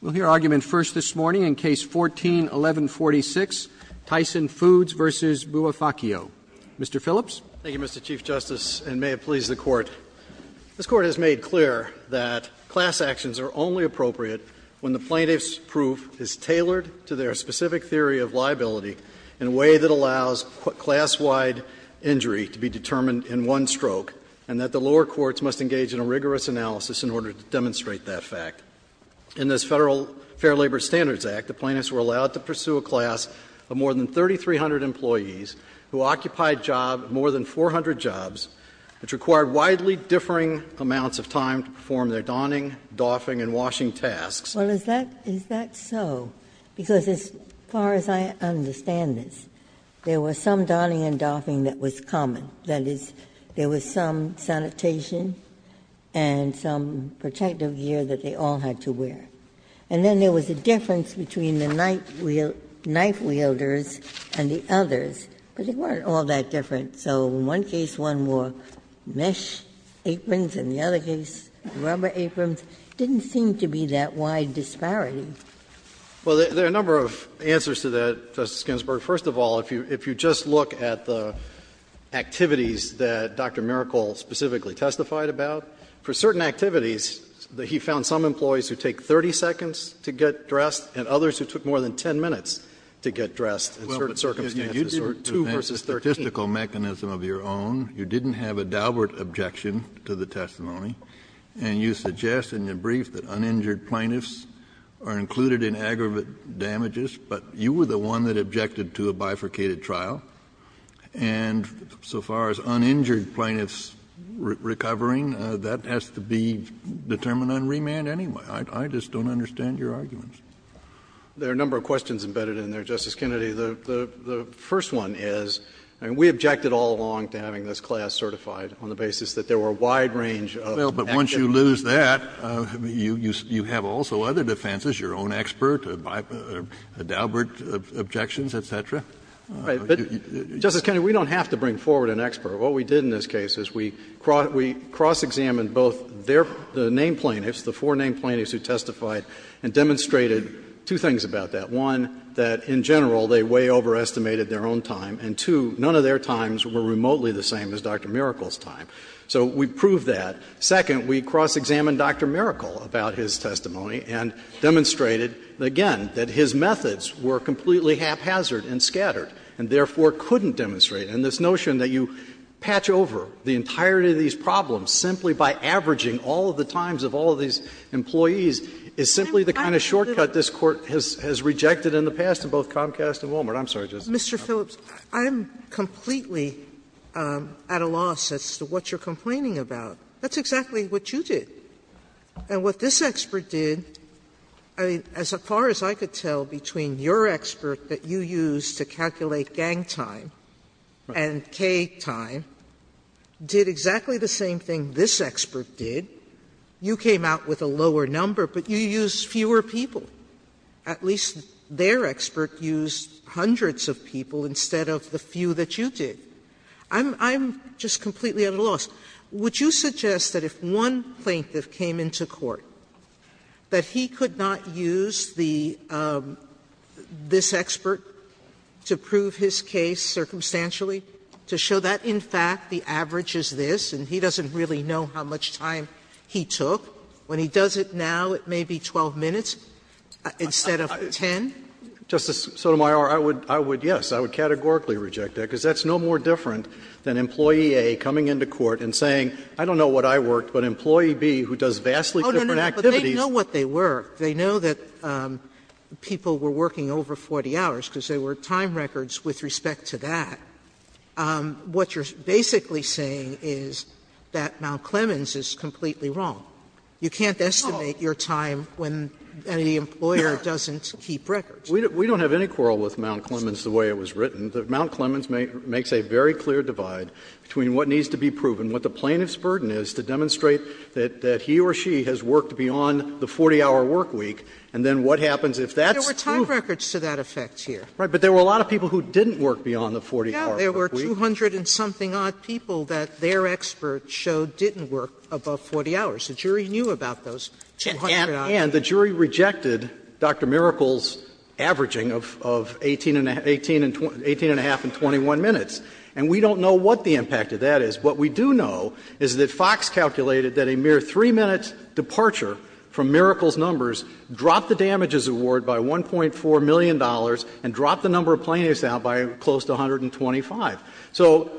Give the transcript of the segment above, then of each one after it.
We'll hear argument first this morning in Case 14-1146, Tyson Foods v. Bouaphakeo. Mr. Phillips. Thank you, Mr. Chief Justice, and may it please the Court. This Court has made clear that class actions are only appropriate when the plaintiff's proof is tailored to their specific theory of liability in a way that allows class-wide injury to be determined in one stroke, and that the lower courts must engage in a rigorous analysis in order to demonstrate that fact. In this Federal Fair Labor Standards Act, the plaintiffs were allowed to pursue a class of more than 3,300 employees who occupied more than 400 jobs, which required widely differing amounts of time to perform their donning, doffing, and washing tasks. Well, is that so? Because as far as I understand this, there was some donning and doffing that was common. That is, there was some sanitation and some protective gear that they all had to wear. And then there was a difference between the knife-wielders and the others, but they weren't all that different. So in one case, one wore mesh aprons, in the other case, rubber aprons. It didn't seem to be that wide disparity. Well, there are a number of answers to that, Justice Ginsburg. First of all, if you just look at the activities that Dr. Mericol specifically testified about, for certain activities, he found some employees who take 30 seconds to get dressed and others who took more than 10 minutes to get dressed in certain circumstances, or 2 versus 13. Kennedy, you didn't have a statistical mechanism of your own, you didn't have a Daubert objection to the testimony, and you suggest in your brief that uninjured plaintiffs are included in aggravate damages, but you were the one that objected to a bifurcated trial. And so far as uninjured plaintiffs recovering, that has to be determined on remand anyway. I just don't understand your arguments. There are a number of questions embedded in there, Justice Kennedy. The first one is, we objected all along to having this class certified on the basis that there were a wide range of active cases. You have also other defenses, your own expert, Daubert objections, et cetera. Justice Kennedy, we don't have to bring forward an expert. What we did in this case is we cross-examined both their name plaintiffs, the four name plaintiffs who testified, and demonstrated two things about that. One, that in general they way overestimated their own time, and two, none of their times were remotely the same as Dr. Mericol's time. So we proved that. Second, we cross-examined Dr. Mericol about his testimony and demonstrated, again, that his methods were completely haphazard and scattered, and therefore couldn't demonstrate. And this notion that you patch over the entirety of these problems simply by averaging all of the times of all of these employees is simply the kind of shortcut this Court has rejected in the past in both Comcast and Walmart. I'm sorry, Justice Sotomayor. Sotomayor, I'm completely at a loss as to what you're complaining about. That's exactly what you did. And what this expert did, I mean, as far as I could tell, between your expert that you used to calculate gang time and K time, did exactly the same thing this expert did. You came out with a lower number, but you used fewer people. At least their expert used hundreds of people instead of the few that you did. I'm just completely at a loss. Would you suggest that if one plaintiff came into court, that he could not use the this expert to prove his case circumstantially, to show that, in fact, the average is this, and he doesn't really know how much time he took? When he does it now, it may be 12 minutes instead of 10? Justice Sotomayor, I would, yes, I would categorically reject that, because that's no more different than Employee A coming into court and saying, I don't know what I worked, but Employee B, who does vastly different activities. Sotomayor, but they know what they worked. They know that people were working over 40 hours, because there were time records with respect to that. What you're basically saying is that Mount Clemens is completely wrong. You can't estimate your time when the employer doesn't keep records. We don't have any quarrel with Mount Clemens the way it was written. Mount Clemens makes a very clear divide between what needs to be proven, what the plaintiff's burden is to demonstrate that he or she has worked beyond the 40-hour work week, and then what happens if that's true? Sotomayor, there were time records to that effect here. Right. But there were a lot of people who didn't work beyond the 40-hour work week. Yeah. There were 200-and-something-odd people that their expert showed didn't work above 40 hours. The jury knew about those 200-odd people. And the jury rejected Dr. Miracle's averaging of 18-and-a-half and 21 minutes. And we don't know what the impact of that is. What we do know is that Fox calculated that a mere 3-minute departure from Miracle's numbers dropped the damages award by $1.4 million and dropped the number of plaintiffs out by close to 125. So,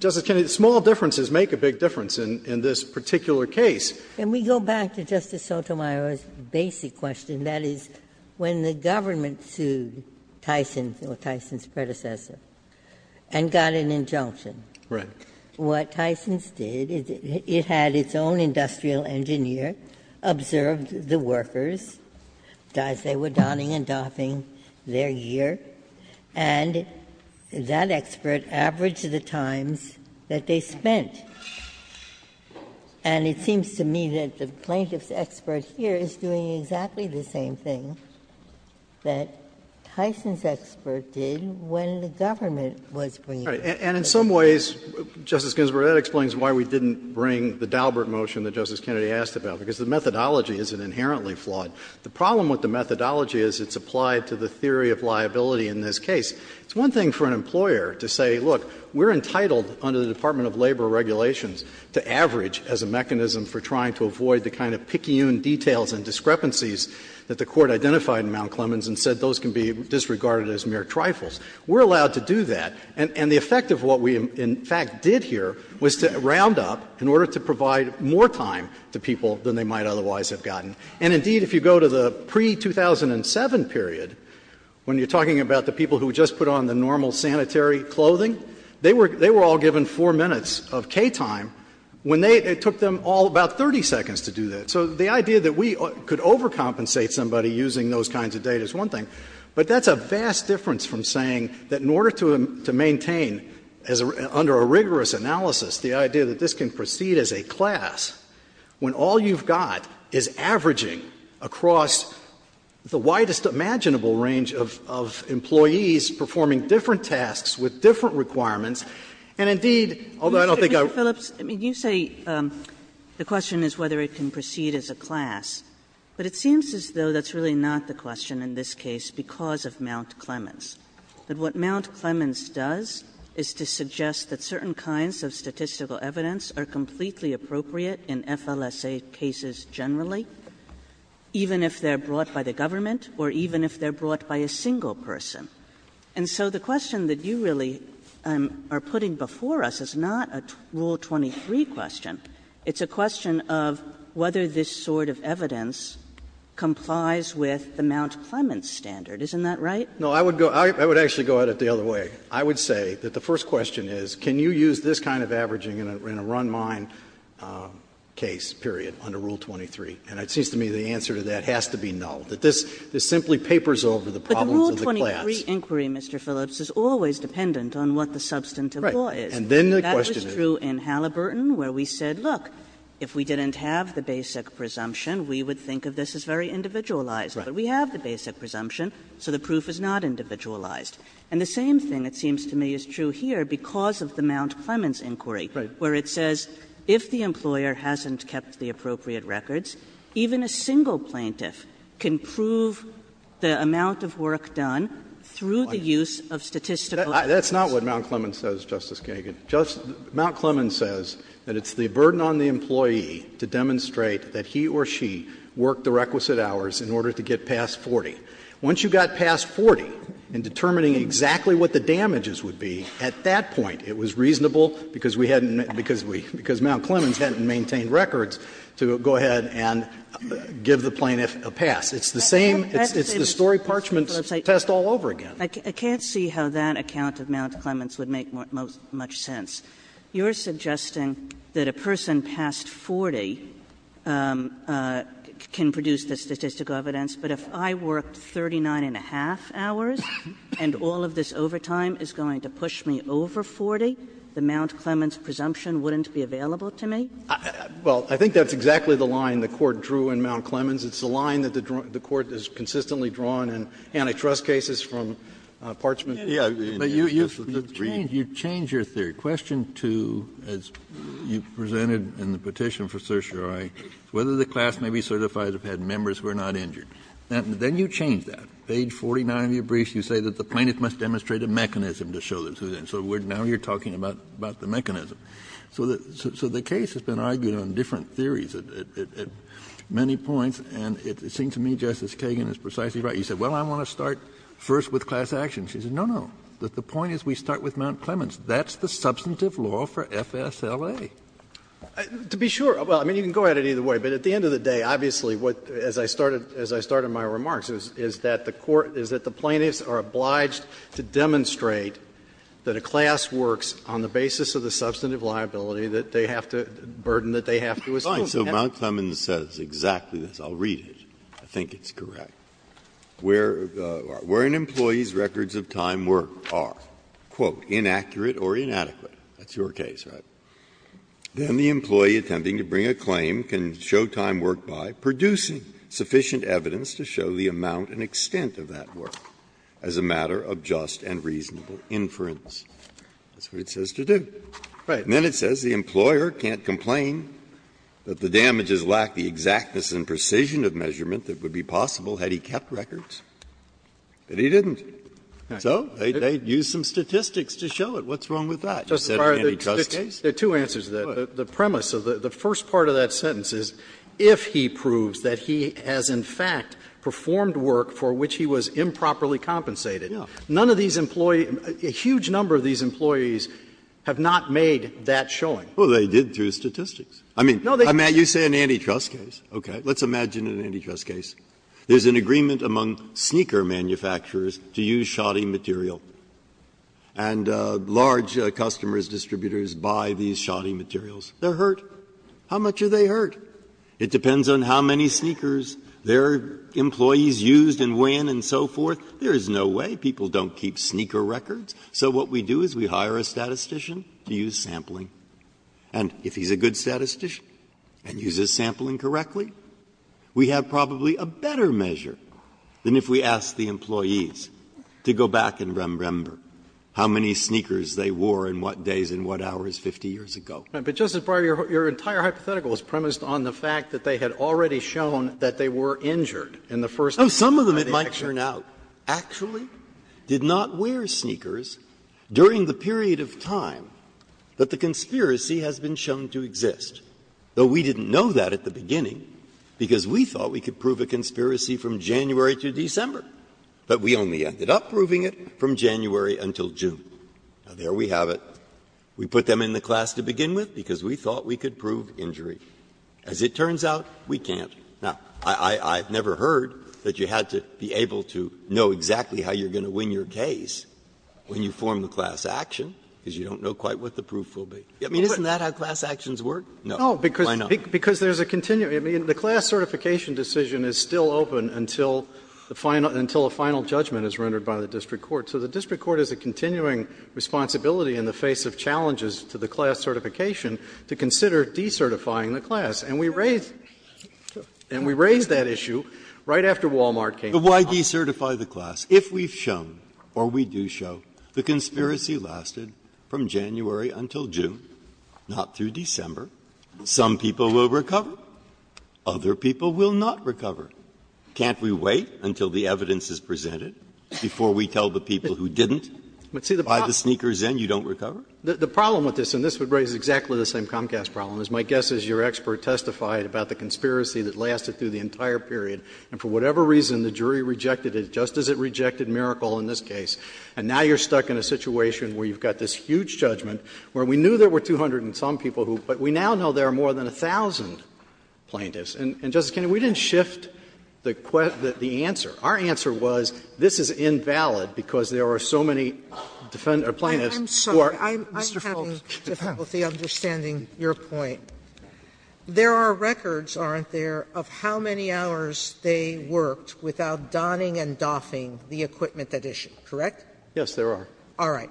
Justice Kennedy, small differences make a big difference in this particular case. Ginsburg. Can we go back to Justice Sotomayor's basic question, that is, when the government sued Tyson, or Tyson's predecessor, and got an injunction, what Tyson's did, it had its own industrial engineer, observed the workers as they were donning and doffing their year, and that expert averaged the times that they spent. And it seems to me that the plaintiff's expert here is doing exactly the same thing that Tyson's expert did when the government was bringing the experts. And in some ways, Justice Ginsburg, that explains why we didn't bring the Daubert motion that Justice Kennedy asked about, because the methodology isn't inherently flawed. The problem with the methodology is it's applied to the theory of liability in this case. It's one thing for an employer to say, look, we're entitled under the Department of Labor regulations to average as a mechanism for trying to avoid the kind of picayune details and discrepancies that the Court identified in Mount Clemens and said those can be disregarded as mere trifles. We're allowed to do that. And the effect of what we, in fact, did here was to round up, in order to provide more time to people than they might otherwise have gotten. And, indeed, if you go to the pre-2007 period, when you're talking about the people who just put on the normal sanitary clothing, they were all given four minutes of K-time, when they — it took them all about 30 seconds to do that. So the idea that we could overcompensate somebody using those kinds of data is one thing. But that's a vast difference from saying that in order to maintain, under a rigorous analysis, the idea that this can proceed as a class, when all you've got is averaging across the widest imaginable range of employees performing different tasks with different requirements. And, indeed, although I don't think I would— Kagan. Kagan. Mr. Phillips, you say the question is whether it can proceed as a class. But it seems as though that's really not the question in this case, because of Mount Clemens, that what Mount Clemens does is to suggest that certain kinds of statistical evidence are completely appropriate in FLSA cases generally, even if they're brought by the government or even if they're brought by a single person. And so the question that you really are putting before us is not a Rule 23 question. It's a question of whether this sort of evidence complies with the Mount Clemens standard. Isn't that right? Phillips, I would go — I would actually go at it the other way. I would say that the first question is, can you use this kind of averaging in a run-mine case, period, under Rule 23? And it seems to me the answer to that has to be no, that this simply papers over the problems of the class. But the inquiry, Mr. Phillips, is always dependent on what the substantive law is. Right. And then the question is — That was true in Halliburton, where we said, look, if we didn't have the basic presumption, we would think of this as very individualized. Right. But we have the basic presumption, so the proof is not individualized. And the same thing, it seems to me, is true here because of the Mount Clemens inquiry, where it says if the employer hasn't kept the appropriate records, even a single plaintiff can prove the amount of work done through the use of statistical evidence. That's not what Mount Clemens says, Justice Kagan. Mount Clemens says that it's the burden on the employee to demonstrate that he or she worked the requisite hours in order to get past 40. Once you got past 40 in determining exactly what the damages would be, at that point it was reasonable, because we hadn't — because Mount Clemens hadn't maintained the requisite records, to go ahead and give the plaintiff a pass. It's the same — it's the Story Parchment test all over again. I can't see how that account of Mount Clemens would make much sense. You're suggesting that a person past 40 can produce the statistical evidence, but if I worked 39 and a half hours and all of this overtime is going to push me over 40, the Mount Clemens presumption wouldn't be available to me? Well, I think that's exactly the line the Court drew in Mount Clemens. It's the line that the Court has consistently drawn in antitrust cases from Parchment tests. Kennedy, you changed your theory. Question 2, as you presented in the petition for certiorari, whether the class may be certified if it had members who are not injured. Then you changed that. Page 49 of your brief, you say that the plaintiff must demonstrate a mechanism to show that. So now you're talking about the mechanism. So the case has been argued on different theories at many points, and it seems to me, Justice Kagan, is precisely right. You said, well, I want to start first with class action. She said, no, no. The point is we start with Mount Clemens. That's the substantive law for FSLA. To be sure — well, I mean, you can go at it either way. But at the end of the day, obviously, what — as I started — as I started my remarks on the basis of the substantive liability that they have to — burden that they have to assume. Breyer, so Mount Clemens says exactly this. I'll read it. I think it's correct. Where an employee's records of time work are, quote, inaccurate or inadequate — that's your case, right? — then the employee attempting to bring a claim can show time work by producing sufficient evidence to show the amount and extent of that work as a matter of just and reasonable inference. That's what it says to do. And then it says the employer can't complain that the damages lack the exactness and precision of measurement that would be possible had he kept records, but he didn't. So they used some statistics to show it. What's wrong with that? You said it can't be trusted. There are two answers to that. The premise of the first part of that sentence is if he proves that he has in fact performed work for which he was improperly compensated, none of these employees — a huge number of these employees have not made that showing. Breyer, well, they did through statistics. I mean, you say an antitrust case. Okay. Let's imagine an antitrust case. There's an agreement among sneaker manufacturers to use shoddy material, and large customers, distributors buy these shoddy materials. They're hurt. How much are they hurt? It depends on how many sneakers their employees used and when and so forth. There is no way. People don't keep sneaker records, so what we do is we hire a statistician to use sampling, and if he's a good statistician and uses sampling correctly, we have probably a better measure than if we asked the employees to go back and remember how many sneakers they wore and what days and what hours 50 years ago. But, Justice Breyer, your entire hypothetical is premised on the fact that they had already shown that they were injured in the first instance. Some of them it might turn out. Actually, did not wear sneakers during the period of time that the conspiracy has been shown to exist, though we didn't know that at the beginning because we thought we could prove a conspiracy from January to December, but we only ended up proving it from January until June. Now, there we have it. We put them in the class to begin with because we thought we could prove injury. As it turns out, we can't. Now, I've never heard that you had to be able to know exactly how you're going to win your case when you form the class action, because you don't know quite what the proof will be. I mean, isn't that how class actions work? No. Why not? Phillipson, No, because there's a continuing – I mean, the class certification decision is still open until the final – until a final judgment is rendered by the district court. So the district court has a continuing responsibility in the face of challenges to the class certification to consider decertifying the class, and we raise the question And we raised that issue right after Wal-Mart came along. Breyer, Why decertify the class? If we've shown, or we do show, the conspiracy lasted from January until June, not through December, some people will recover, other people will not recover. Can't we wait until the evidence is presented before we tell the people who didn't? By the sneaker's end, you don't recover? The problem with this, and this would raise exactly the same Comcast problem, is my guess is your expert testified about the conspiracy that lasted through the entire period. And for whatever reason, the jury rejected it, just as it rejected Miracle in this case. And now you're stuck in a situation where you've got this huge judgment where we knew there were 200 and some people who – but we now know there are more than 1,000 plaintiffs. And, Justice Kennedy, we didn't shift the question – the answer. Our answer was this is invalid because there are so many plaintiffs who are – Sotomayor, I have difficulty understanding your point. There are records, aren't there, of how many hours they worked without donning and doffing the equipment at issue, correct? Yes, there are. All right.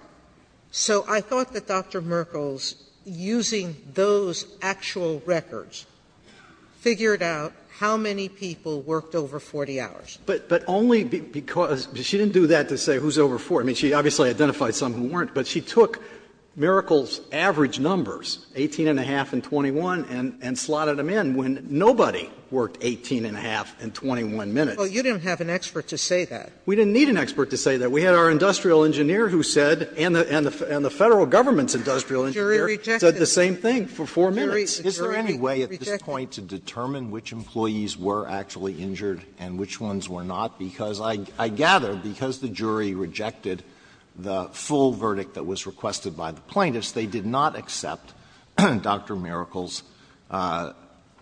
So I thought that Dr. Merkles, using those actual records, figured out how many people worked over 40 hours. But only because – she didn't do that to say who's over 40. I mean, she obviously identified some who weren't. But she took Miracle's average numbers, 18-and-a-half and 21, and slotted them in when nobody worked 18-and-a-half and 21 minutes. Sotomayor, you didn't have an expert to say that. We didn't need an expert to say that. We had our industrial engineer who said, and the Federal government's industrial engineer, said the same thing for 4 minutes. Is there any way at this point to determine which employees were actually injured and which ones were not, because I gather, because the jury rejected the full verdict that was requested by the plaintiffs, they did not accept Dr. Miracle's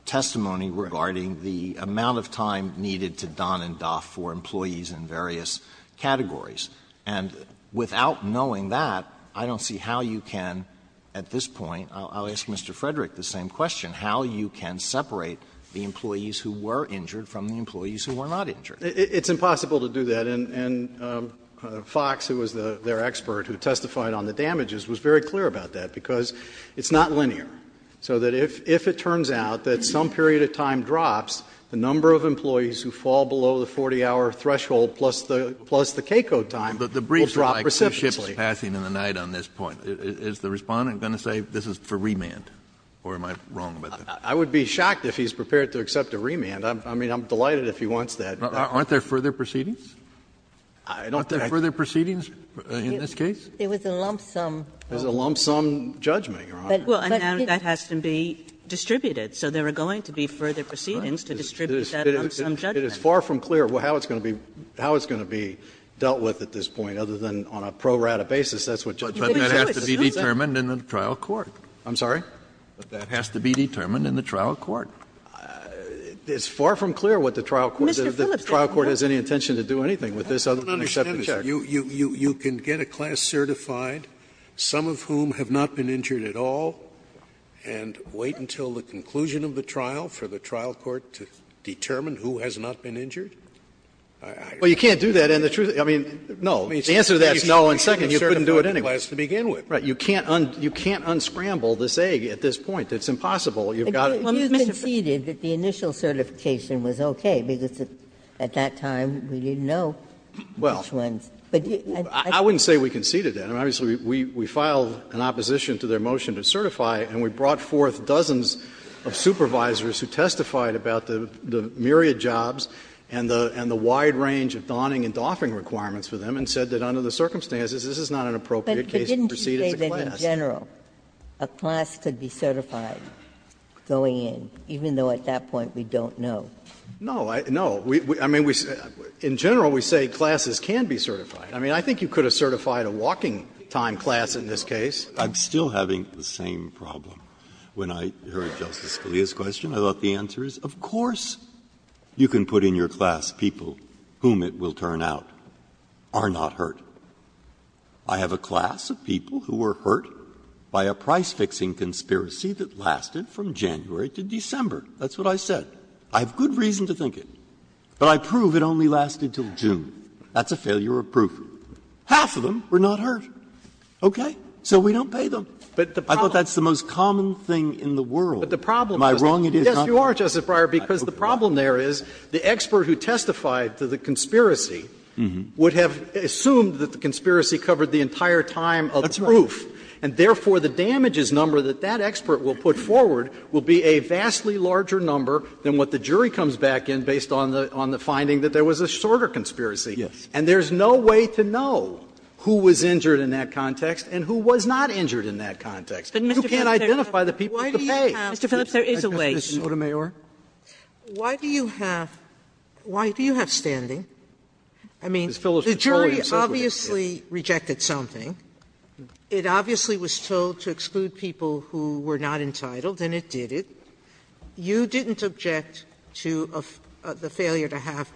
testimony regarding the amount of time needed to don and doff for employees in various categories. And without knowing that, I don't see how you can at this point – I'll ask Mr. Frederick the same question – how you can separate the employees who were injured from the employees who were not injured. It's impossible to do that, and Fox, who was their expert who testified on the damages, was very clear about that, because it's not linear, so that if it turns out that some period of time drops, the number of employees who fall below the 40-hour threshold plus the KCO time will drop precipitously. But the briefs are like two ships passing in the night on this point. Is the Respondent going to say this is for remand, or am I wrong about that? I would be shocked if he's prepared to accept a remand. I mean, I'm delighted if he wants that. Kennedy, but aren't there further proceedings? Aren't there further proceedings in this case? Ginsburg, it was a lump-sum. Phillips, it was a lump-sum judgment, Your Honor. Kagan, well, and now that has to be distributed. So there are going to be further proceedings to distribute that lump-sum judgment. Phillips, it is far from clear how it's going to be dealt with at this point, other than on a pro-rata basis, that's what Judge Sotomayor said. Kennedy, but that has to be determined in the trial court. Phillips, I'm sorry? Kennedy, but that has to be determined in the trial court. It's far from clear what the trial court is going to do. The trial court has any intention to do anything with this other than accept the check. Scalia, I don't understand, Mr. Phillips. You can get a class certified, some of whom have not been injured at all, and wait until the conclusion of the trial for the trial court to determine who has not been injured? Well, you can't do that, and the truth of it is, I mean, no, the answer to that is no, and second, you couldn't do it anyway. You can't unscramble this egg at this point. It's impossible. You've got to do it. Well, you conceded that the initial certification was okay, because at that time we didn't know which ones. Well, I wouldn't say we conceded that. I mean, obviously, we filed an opposition to their motion to certify, and we brought forth dozens of supervisors who testified about the myriad jobs and the wide range of donning and doffing requirements for them, and said that under the circumstances this is not an appropriate case to proceed as a class. But didn't you say that in general a class could be certified? Going in, even though at that point we don't know. No. No. I mean, in general we say classes can be certified. I mean, I think you could have certified a walking-time class in this case. Breyer, I'm still having the same problem. When I heard Justice Scalia's question, I thought the answer is, of course, you can put in your class people whom it will turn out are not hurt. I have a class of people who were hurt by a price-fixing conspiracy that lasted from January to December. That's what I said. I have good reason to think it. But I prove it only lasted until June. That's a failure of proof. Half of them were not hurt. Okay? So we don't pay them. I thought that's the most common thing in the world. Am I wrong? It is not? Yes, you are, Justice Breyer, because the problem there is the expert who testified to the conspiracy would have assumed that the conspiracy covered the entire time of the proof. And therefore, the damages number that that expert will put forward will be a vastly larger number than what the jury comes back in based on the finding that there was a shorter conspiracy. Yes. And there's no way to know who was injured in that context and who was not injured in that context. You can't identify the people to pay. Mr. Phillips, there is a way. Sotomayor? Why do you have why do you have standing? I mean, the jury obviously rejected something. It obviously was told to exclude people who were not entitled, and it did it. You didn't object to the failure to have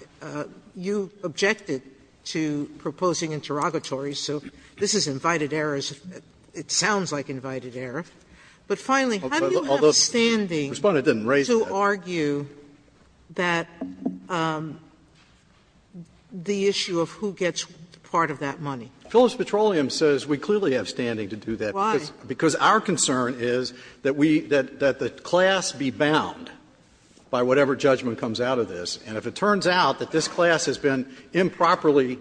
you objected to proposing interrogatories. So this is invited errors. It sounds like invited error. But finally, how do you have standing? Respondent didn't raise that. To argue that the issue of who gets part of that money? Phillips Petroleum says we clearly have standing to do that. Why? Because our concern is that we that that the class be bound by whatever judgment comes out of this. And if it turns out that this class has been improperly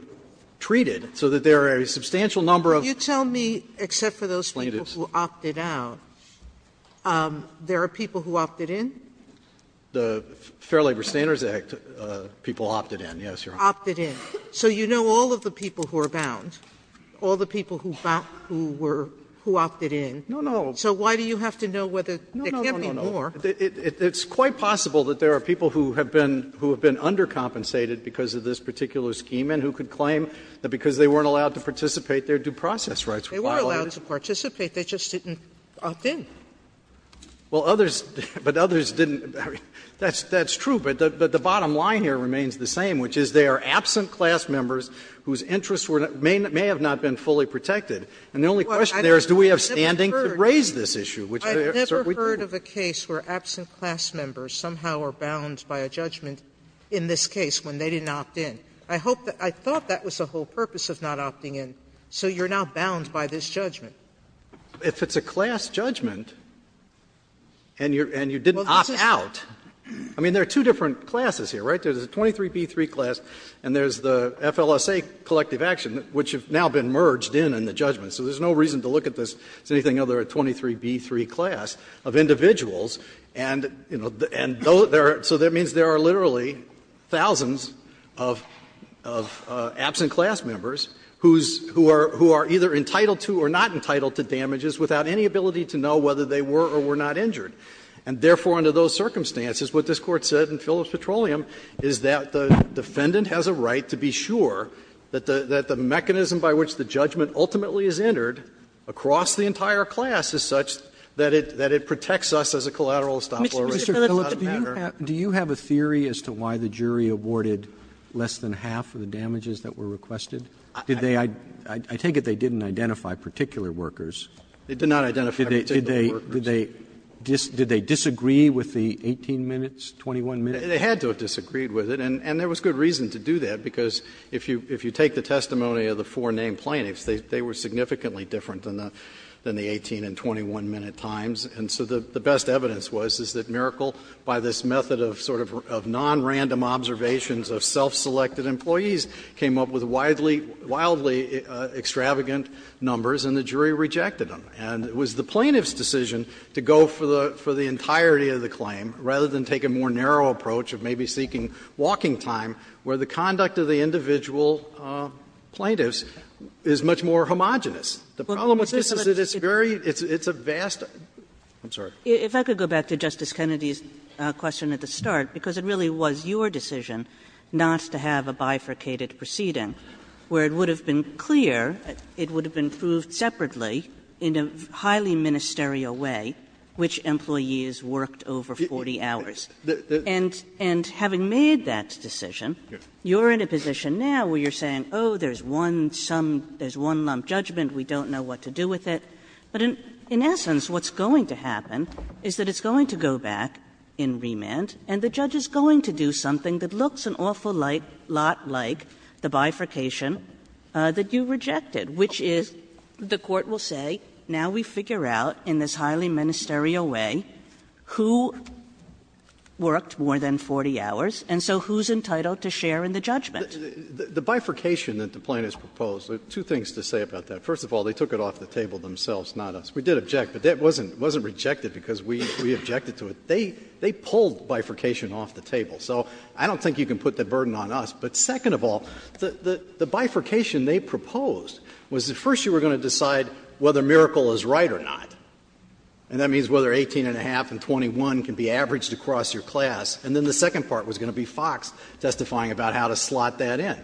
treated so that there are a substantial number of plaintiffs. Sotomayor? Let me, except for those people who opted out, there are people who opted in? The Fair Labor Standards Act people opted in, yes, Your Honor. Opted in. So you know all of the people who are bound, all the people who were who opted in. No, no. So why do you have to know whether there can't be more? No, no, no, no. It's quite possible that there are people who have been who have been undercompensated because of this particular scheme and who could claim that because they weren't allowed to participate, their due process rights were violated. They were allowed to participate, they just didn't opt in. Well, others, but others didn't, I mean, that's true, but the bottom line here remains the same, which is they are absent class members whose interests were, may have not been fully protected. And the only question there is do we have standing to raise this issue, which we do. I've never heard of a case where absent class members somehow are bound by a judgment in this case when they didn't opt in. I hope that, I thought that was the whole purpose of not opting in, so you are now bound by this judgment. If it's a class judgment and you didn't opt out, I mean, there are two different classes here, right? There is a 23b3 class and there is the FLSA collective action, which have now been merged in in the judgment. So there is no reason to look at this as anything other than a 23b3 class of individuals and, you know, so that means there are literally thousands of absent class members who are either entitled to or not entitled to damages without any ability to know whether they were or were not injured. And therefore, under those circumstances, what this Court said in Phillips Petroleum is that the defendant has a right to be sure that the mechanism by which the judgment ultimately is entered across the entire class is such that it protects us as a collective or as a collateral estoppel. Roberts Mr. Phillips, do you have a theory as to why the jury awarded less than half of the damages that were requested? Did they – I take it they didn't identify particular workers. Phillips They did not identify particular workers. Roberts Did they disagree with the 18 minutes, 21 minutes? Phillips They had to have disagreed with it, and there was good reason to do that, because if you take the testimony of the four named plaintiffs, they were significantly different than the 18 and 21-minute times, and so the best evidence was, is that Miracle, by this method of sort of nonrandom observations of self-selected employees, came up with wildly extravagant numbers, and the jury rejected them. And it was the plaintiff's decision to go for the entirety of the claim rather than take a more narrow approach of maybe seeking walking time, where the conduct of the The problem with this is that it's very – it's a vast – I'm sorry. Kagan If I could go back to Justice Kennedy's question at the start, because it really was your decision not to have a bifurcated proceeding, where it would have been clear it would have been proved separately in a highly ministerial way which employees worked over 40 hours. And having made that decision, you're in a position now where you're saying, oh, there's one lump judgment, we don't know what to do with it. But in essence, what's going to happen is that it's going to go back in remand, and the judge is going to do something that looks an awful lot like the bifurcation that you rejected, which is, the Court will say, now we figure out in this highly ministerial way who worked more than 40 hours, and so who's entitled to share in the judgment. The bifurcation that the plaintiffs proposed, two things to say about that. First of all, they took it off the table themselves, not us. We did object, but that wasn't rejected because we objected to it. They pulled bifurcation off the table. So I don't think you can put that burden on us. But second of all, the bifurcation they proposed was that first you were going to decide whether Miracle is right or not, and that means whether 18 and a half and 21 can be averaged across your class. And then the second part was going to be Fox testifying about how to slot that in.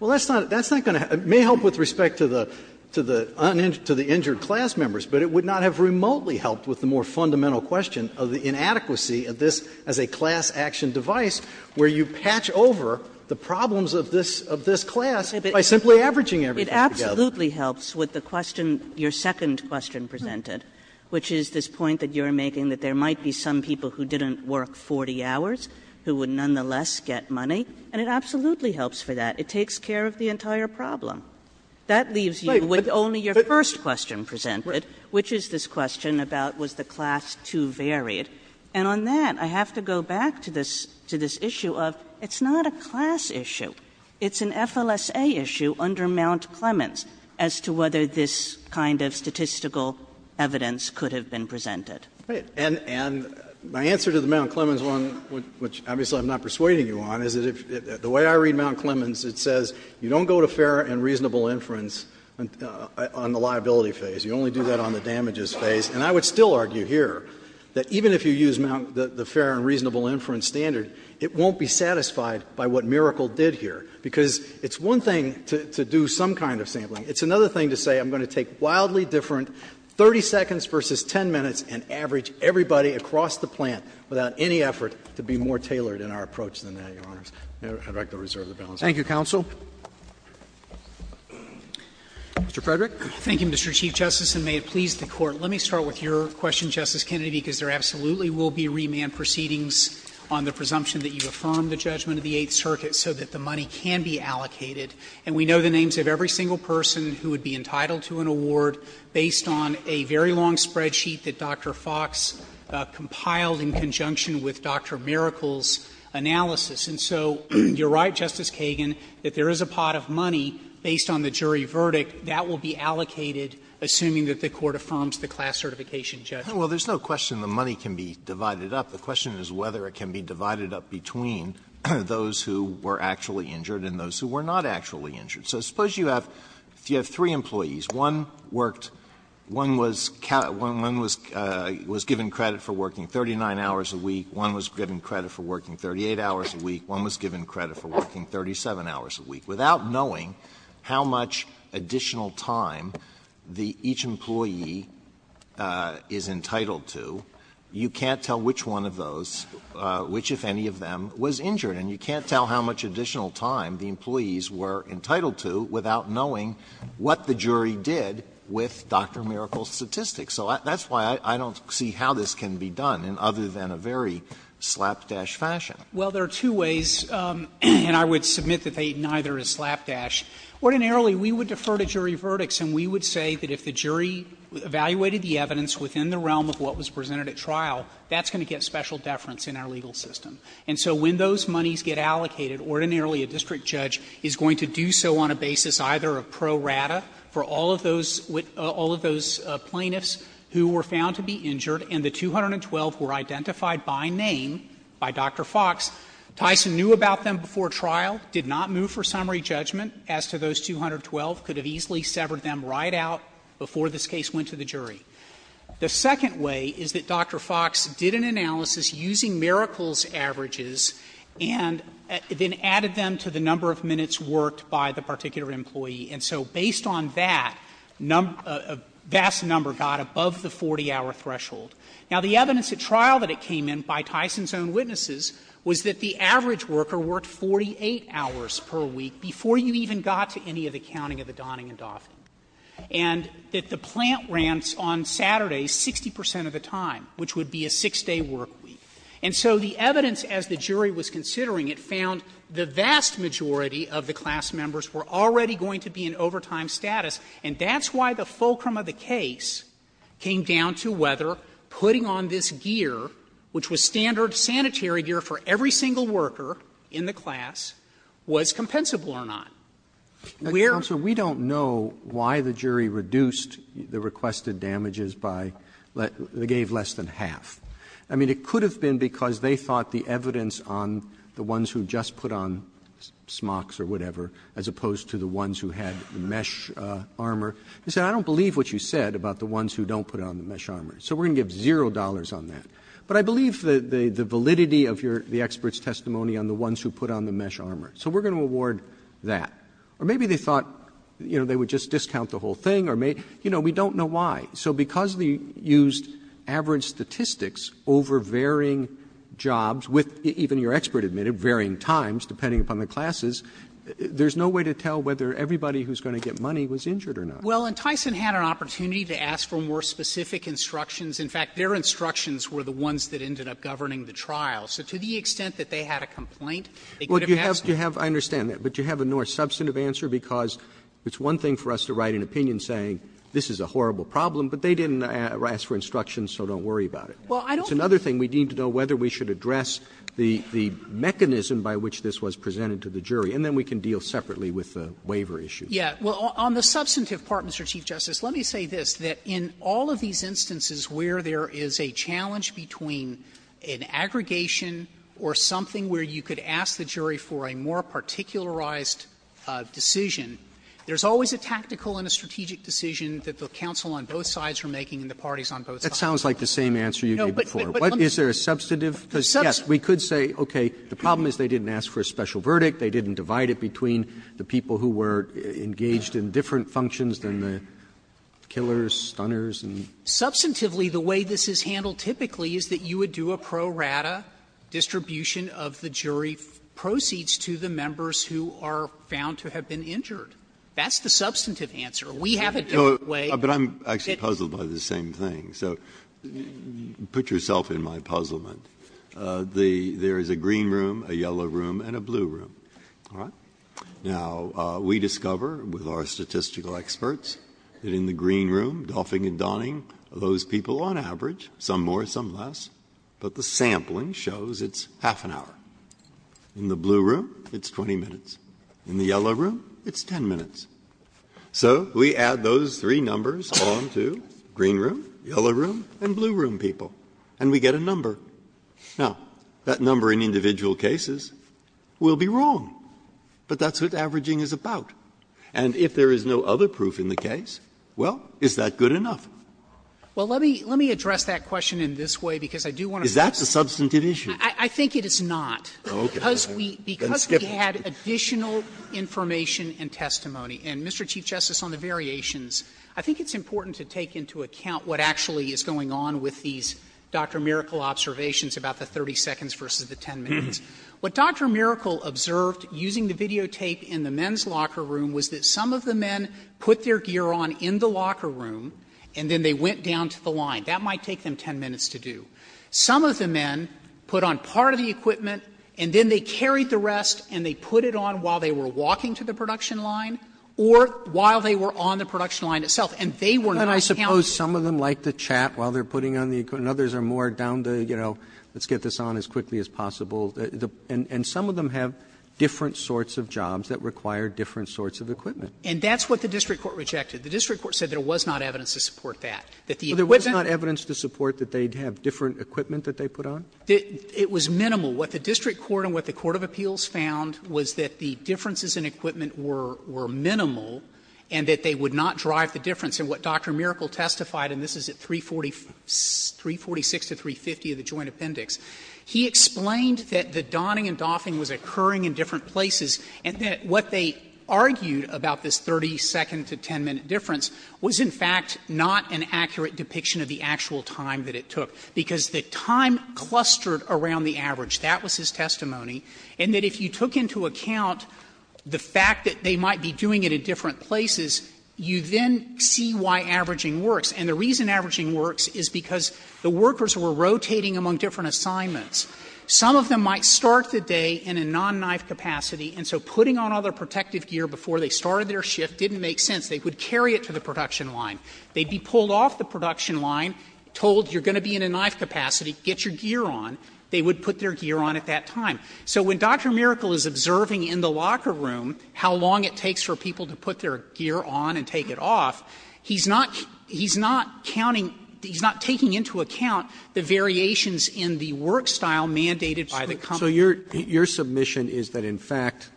Well, that's not going to help. It may help with respect to the uninjured, to the injured class members, but it would not have remotely helped with the more fundamental question of the inadequacy of this as a class action device, where you patch over the problems of this class by simply averaging everything together. Kagan. Kagan. Kagan. Kagan. Kagan. Kagan. Kagan. Kagan. Kagan. Kagan. Kagan. Kagan. Kagan. And it absolutely helps for that. It takes care of the entire problem. That leaves you with only your first question presented, which is this question about was the class too varied. And on that, I have to go back to this to this issue of, it's not a class issue. It's an FLSA issue under Mount Clemens as to whether this kind of statistical evidence could have been presented. And my answer to the Mount Clemens one, which obviously I'm not persuading you on, is that the way I read Mount Clemens, it says you don't go to fair and reasonable inference on the liability phase. You only do that on the damages phase. And I would still argue here that even if you use Mount, the fair and reasonable inference standard, it won't be satisfied by what Miracle did here, because it's one thing to do some kind of sampling. It's another thing to say I'm going to take wildly different 30 seconds versus 10 minutes and average everybody across the plant without any effort to be more tailored in our approach than that, Your Honors. I'd like to reserve the balance. Roberts. Thank you, counsel. Mr. Frederick. Thank you, Mr. Chief Justice, and may it please the Court. Let me start with your question, Justice Kennedy, because there absolutely will be remand proceedings on the presumption that you affirm the judgment of the Eighth Circuit so that the money can be allocated. And we know the names of every single person who would be entitled to an award based on a very long spreadsheet that Dr. Fox compiled in conjunction with Dr. Miracle's analysis. And so you're right, Justice Kagan, that there is a pot of money based on the jury verdict that will be allocated, assuming that the Court affirms the class certification judgment. Well, there's no question the money can be divided up. The question is whether it can be divided up between those who were actually injured and those who were not actually injured. So suppose you have three employees. One worked, one was given credit for working 39 hours a week, one was given credit for working 38 hours a week, one was given credit for working 37 hours a week. Without knowing how much additional time each employee is entitled to, you can't tell which one of those, which, if any of them, was injured. And you can't tell how much additional time the employees were entitled to without knowing what the jury did with Dr. Miracle's statistics. So that's why I don't see how this can be done, other than a very slapdash fashion. Well, there are two ways, and I would submit that they neither is slapdash. Ordinarily, we would defer to jury verdicts and we would say that if the jury evaluated the evidence within the realm of what was presented at trial, that's going to get special deference in our legal system. And so when those monies get allocated, ordinarily a district judge is going to do so on a basis either of pro rata for all of those plaintiffs who were found to be injured, and the 212 were identified by name by Dr. Fox. Tyson knew about them before trial, did not move for summary judgment as to those 212, could have easily severed them right out before this case went to the jury. The second way is that Dr. Fox did an analysis using Miracle's averages and then added them to the number of minutes worked by the particular employee. And so based on that, a vast number got above the 40-hour threshold. Now, the evidence at trial that it came in by Tyson's own witnesses was that the average worker worked 48 hours per week before you even got to any of the counting of the Donning and Dauphin. And that the plant rants on Saturdays 60 percent of the time, which would be a 6-day work week. And so the evidence as the jury was considering it found the vast majority of the class members were already going to be in overtime status, and that's why the fulcrum of the case came down to whether putting on this gear, which was standard sanitary gear for every single worker in the class, was compensable or not. Roberts We don't know why the jury reduced the requested damages by the gave less than half. I mean, it could have been because they thought the evidence on the ones who just put on smocks or whatever, as opposed to the ones who had mesh armor, they said, I don't believe what you said about the ones who don't put on the mesh armor. So we're going to give zero dollars on that. But I believe the validity of the expert's testimony on the ones who put on the mesh armor. So we're going to award that. Or maybe they thought, you know, they would just discount the whole thing or maybe you know, we don't know why. So because they used average statistics over varying jobs with even your expert admitted, varying times, depending upon the classes, there's no way to tell whether everybody who's going to get money was injured or not. Well, and Tyson had an opportunity to ask for more specific instructions. In fact, their instructions were the ones that ended up governing the trial. So to the extent that they had a complaint, they could have asked for more. Roberts Well, do you have, I understand that, but do you have a more substantive answer? Because it's one thing for us to write an opinion saying this is a horrible problem, but they didn't ask for instructions, so don't worry about it. It's another thing, we need to know whether we should address the mechanism by which this was presented to the jury, and then we can deal separately with the waiver issue. Yeah. Well, on the substantive part, Mr. Chief Justice, let me say this, that in all of these cases, whether it's a challenge between an aggregation or something where you could ask the jury for a more particularized decision, there's always a tactical and a strategic decision that the counsel on both sides are making and the parties on both sides. Roberts That sounds like the same answer you gave before. Is there a substantive? Because, yes, we could say, okay, the problem is they didn't ask for a special verdict, they didn't divide it between the people who were engaged in different functions than the killers, stunners, and so on. Substantively, the way this is handled typically is that you would do a pro rata distribution of the jury proceeds to the members who are found to have been injured. That's the substantive answer. We have a different way. Breyer No, but I'm actually puzzled by the same thing, so put yourself in my puzzlement. There is a green room, a yellow room, and a blue room, all right? Now, we discover with our statistical experts that in the green room, doffing and donning of those people on average, some more, some less, but the sampling shows it's half an hour. In the blue room, it's 20 minutes. In the yellow room, it's 10 minutes. So we add those three numbers on to green room, yellow room, and blue room people, and we get a number. Now, that number in individual cases will be wrong, but that's what averaging is about. And if there is no other proof in the case, well, is that good enough? Frederick Well, let me address that question in this way, because I do want to say that's a substantive issue. I think it is not. Breyer Okay. Then skip it. Frederick Because we had additional information and testimony, and Mr. Chief Justice, on the variations, I think it's important to take into account what actually is going on with these Dr. Miracle observations about the 30 seconds versus the 10 minutes. What Dr. Miracle observed using the videotape in the men's locker room was that some of the men put their gear on in the locker room, and then they went down to the line. That might take them 10 minutes to do. Some of the men put on part of the equipment, and then they carried the rest, and they put it on while they were walking to the production line or while they were on the production line itself, and they were not counting. Roberts And I suppose some of them like to chat while they're putting on the equipment and others are more down to, you know, let's get this on as quickly as possible. And some of them have different sorts of jobs that require different sorts of equipment. Frederick And that's what the district court rejected. The district court said there was not evidence to support that, that the equipment wasn't. Roberts There was not evidence to support that they'd have different equipment that they put on? Frederick It was minimal. What the district court and what the court of appeals found was that the differences in equipment were minimal and that they would not drive the difference. And what Dr. Miracle testified, and this is at 346 to 350 of the joint appendix, he explained that the donning and doffing was occurring in different places and that what they argued about this 30-second to 10-minute difference was, in fact, not an accurate depiction of the actual time that it took, because the time clustered around the average. That was his testimony. And that if you took into account the fact that they might be doing it in different places, you then see why averaging works. And the reason averaging works is because the workers were rotating among different assignments. Some of them might start the day in a non-knife capacity, and so putting on all their protective gear before they started their shift didn't make sense. They would carry it to the production line. They'd be pulled off the production line, told you're going to be in a knife capacity, get your gear on. They would put their gear on at that time. So when Dr. Miracle is observing in the locker room how long it takes for people to put their gear on and take it off, he's not counting, he's not taking into account the variations in the work style mandated by the company. Roberts. So your submission is that, in fact,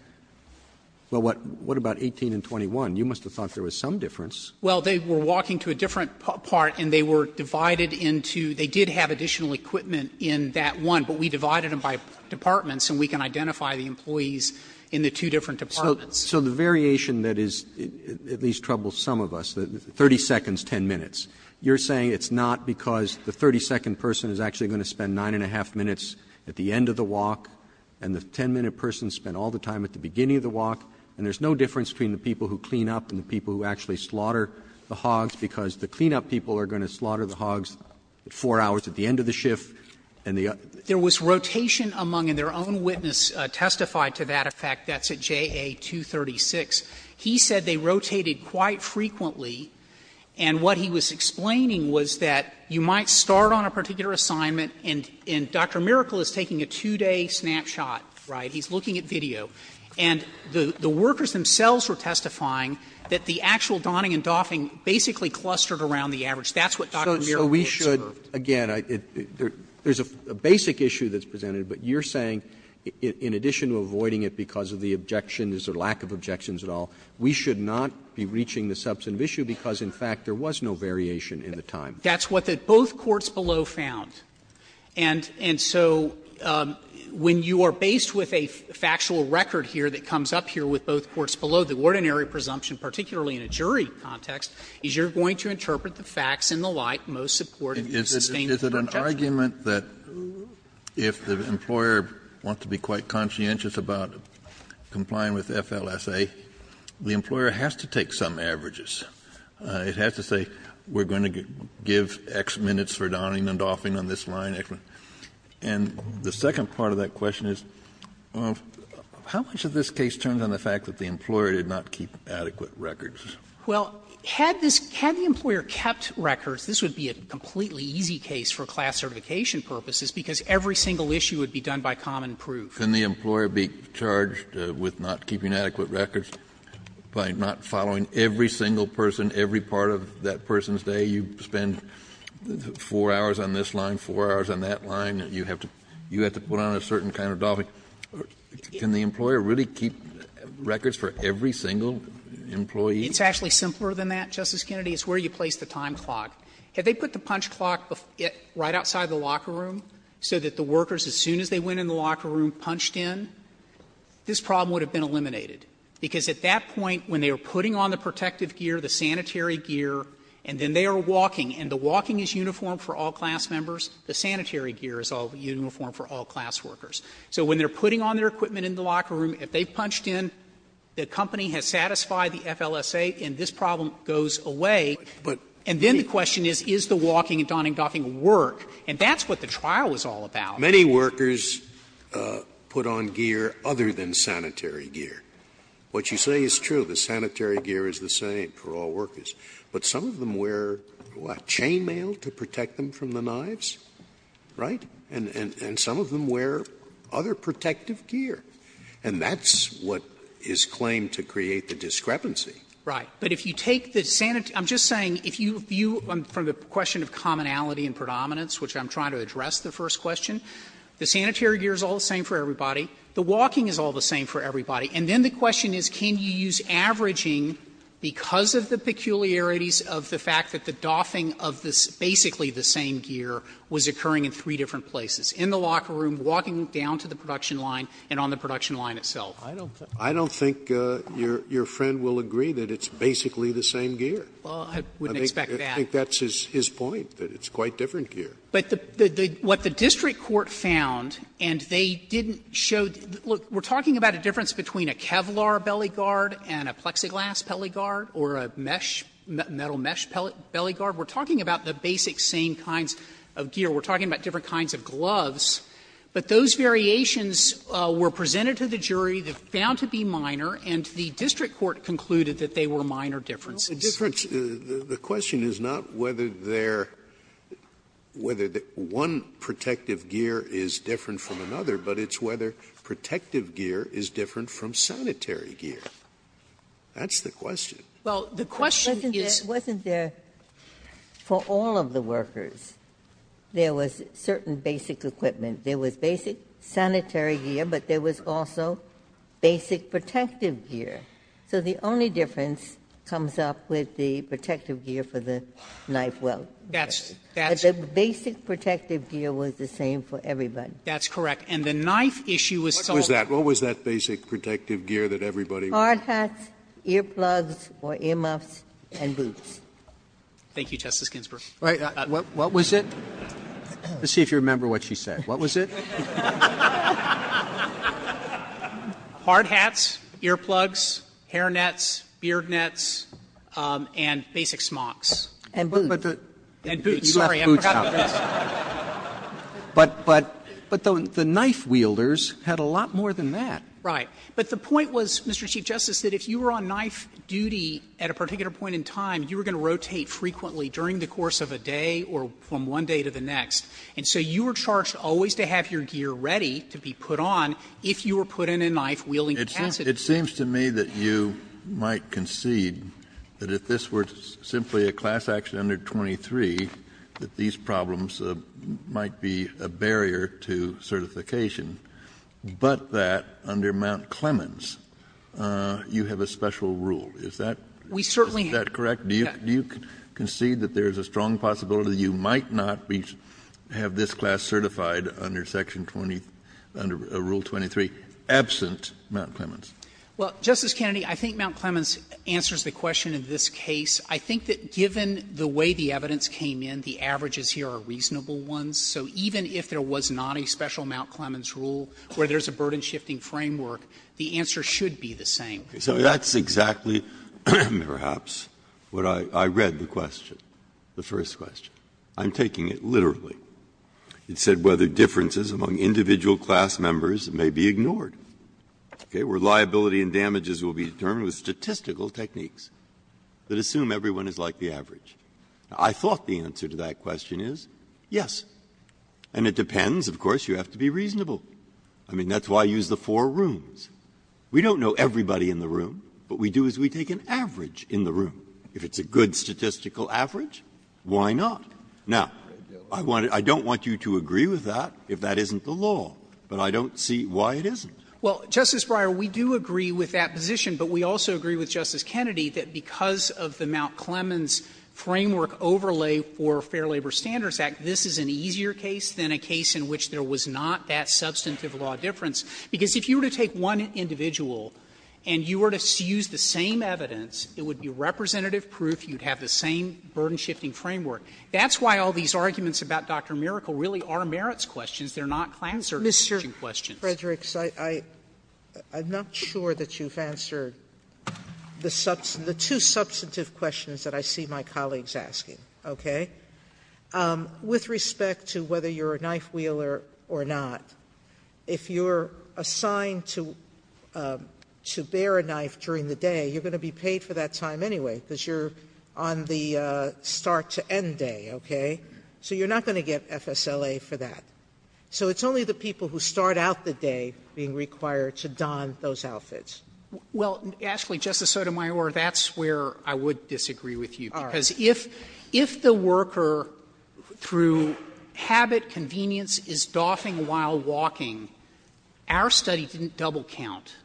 well, what about 18 and 21? You must have thought there was some difference. Well, they were walking to a different part and they were divided into they did have additional equipment in that one, but we divided them by departments and we can identify the employees in the two different departments. Roberts. So the variation that is at least troubles some of us, 30 seconds, 10 minutes, you're saying it's not because the 30-second person is actually going to spend 9 and a half minutes at the end of the walk, and the 10-minute person spent all the time at the beginning of the walk, and there's no difference between the people who clean up and the people who actually slaughter the hogs because the clean-up people are going to slaughter the hogs at 4 hours at the end of the shift and the other. There was rotation among, and their own witness testified to that effect. That's at JA-236. He said they rotated quite frequently, and what he was explaining was that you might start on a particular assignment and Dr. Miracle is taking a 2-day snapshot, right? He's looking at video. And the workers themselves were testifying that the actual donning and doffing basically clustered around the average. That's what Dr. Miracle observed. Roberts Again, there's a basic issue that's presented, but you're saying in addition to avoiding it because of the objection, there's a lack of objections at all, we should not be reaching the substantive issue because, in fact, there was no variation in the time. That's what both courts below found. And so when you are based with a factual record here that comes up here with both courts below, the ordinary presumption, particularly in a jury context, is you're going to interpret the facts in the light most supportive of the sustainable objection. Kennedy Is it an argument that if the employer wants to be quite conscientious about complying with FLSA, the employer has to take some averages? It has to say, we're going to give X minutes for donning and doffing on this line. And the second part of that question is, how much of this case turns on the fact that the employer did not keep adequate records? Well, had this – had the employer kept records, this would be a completely easy case for class certification purposes, because every single issue would be done by common proof. Kennedy Can the employer be charged with not keeping adequate records by not following every single person, every part of that person's day? You spend 4 hours on this line, 4 hours on that line, and you have to put on a certain kind of doffing. Can the employer really keep records for every single employee? It's actually simpler than that, Justice Kennedy. It's where you place the time clock. Had they put the punch clock right outside the locker room so that the workers, as soon as they went in the locker room, punched in, this problem would have been eliminated. Because at that point, when they were putting on the protective gear, the sanitary gear, and then they are walking, and the walking is uniform for all class members, the sanitary gear is uniform for all class workers. So when they're putting on their equipment in the locker room, if they punched in, the company has satisfied the FLSA, and this problem goes away, and then the question is, is the walking and donning and doffing going to work? And that's what the trial was all about. Scalia, many workers put on gear other than sanitary gear. What you say is true. The sanitary gear is the same for all workers. But some of them wear, what, chain mail to protect them from the knives, right? And some of them wear other protective gear. And that's what is claimed to create the discrepancy. Frederick, but if you take the sanitary gear, I'm just saying, if you view from the question of commonality and predominance, which I'm trying to address the first question, the sanitary gear is all the same for everybody, the walking is all the same for everybody, and then the question is, can you use averaging because of the peculiarities of the fact that the doffing of this, basically the same gear, was occurring in three different places, in the locker room, walking down to the production line, and on the production line itself. Scalia I don't think your friend will agree that it's basically the same gear. Frederick, I think that's his point, that it's quite different gear. Frederick, but what the district court found, and they didn't show the – look, we're talking about a difference between a Kevlar belly guard and a plexiglass belly guard or a mesh, metal mesh belly guard. We're talking about the basic same kinds of gear. We're talking about different kinds of gloves. But those variations were presented to the jury, they're found to be minor, and the district court concluded that they were minor differences. Scalia The difference – the question is not whether they're – whether one protective gear is different from another, but it's whether protective gear is different from sanitary gear. That's the question. Frederick, the question is – Ginsburg For all of the workers, there was certain basic equipment. There was basic sanitary gear, but there was also basic protective gear. So the only difference comes up with the protective gear for the knife weld. Frederick, but the basic protective gear was the same for everybody. Frederick, and the knife issue was still – Roberts What was that basic protective gear that everybody – Ginsburg Hard hats, earplugs, or earmuffs, and boots. Frederick, what was it? Frederick, let's see if you remember what she said. What was it? Frederick, hard hats, earplugs, hairnets, beard nets, and basic smocks. Roberts, and boots. Frederick, and boots. I'm sorry, I forgot about this. Roberts, but the knife wielders had a lot more than that. Frederick, right. But the point was, Mr. Chief Justice, that if you were on knife duty at a particular point in time, you were going to rotate frequently during the course of a day or from one day to the next. And so you were charged always to have your gear ready to be put on if you were put in a knife-wielding capacity. Kennedy It seems to me that you might concede that if this were simply a class action under 23, that these problems might be a barrier to certification, but that under Mount Is that what you're saying? Is that correct? Do you concede that there is a strong possibility that you might not have this class certified under Section 20, under Rule 23, absent Mount Clemens? Frederick, well, Justice Kennedy, I think Mount Clemens answers the question in this case. I think that given the way the evidence came in, the averages here are reasonable ones. So even if there was not a special Mount Clemens rule where there's a burden-shifting framework, the answer should be the same. Breyer So that's exactly, perhaps, what I read the question, the first question. I'm taking it literally. It said whether differences among individual class members may be ignored, okay, where liability and damages will be determined with statistical techniques that assume everyone is like the average. I thought the answer to that question is yes. And it depends, of course, you have to be reasonable. I mean, that's why I used the four rooms. We don't know everybody in the room. What we do is we take an average in the room. If it's a good statistical average, why not? Now, I want to don't want you to agree with that if that isn't the law, but I don't see why it isn't. Frederick, well, Justice Breyer, we do agree with that position, but we also agree with Justice Kennedy that because of the Mount Clemens framework overlay for Fair Labor Standards Act, this is an easier case than a case in which there was not that substantive law difference. Because if you were to take one individual and you were to use the same evidence, it would be representative proof, you would have the same burden-shifting framework. That's why all these arguments about Dr. Miracle really are merits questions. They are not class-certifying questions. Sotomayor, I'm not sure that you've answered the two substantive questions that I see my colleagues asking, okay? With respect to whether you're a knife-wheeler or not, if you're assigned to bear a knife during the day, you're going to be paid for that time anyway, because you're on the start-to-end day, okay? So you're not going to get FSLA for that. So it's only the people who start out the day being required to don those outfits. Frederick, well, actually, Justice Sotomayor, that's where I would disagree with you. Sotomayor, all right. If the worker, through habit, convenience, is doffing while walking, our study didn't double count.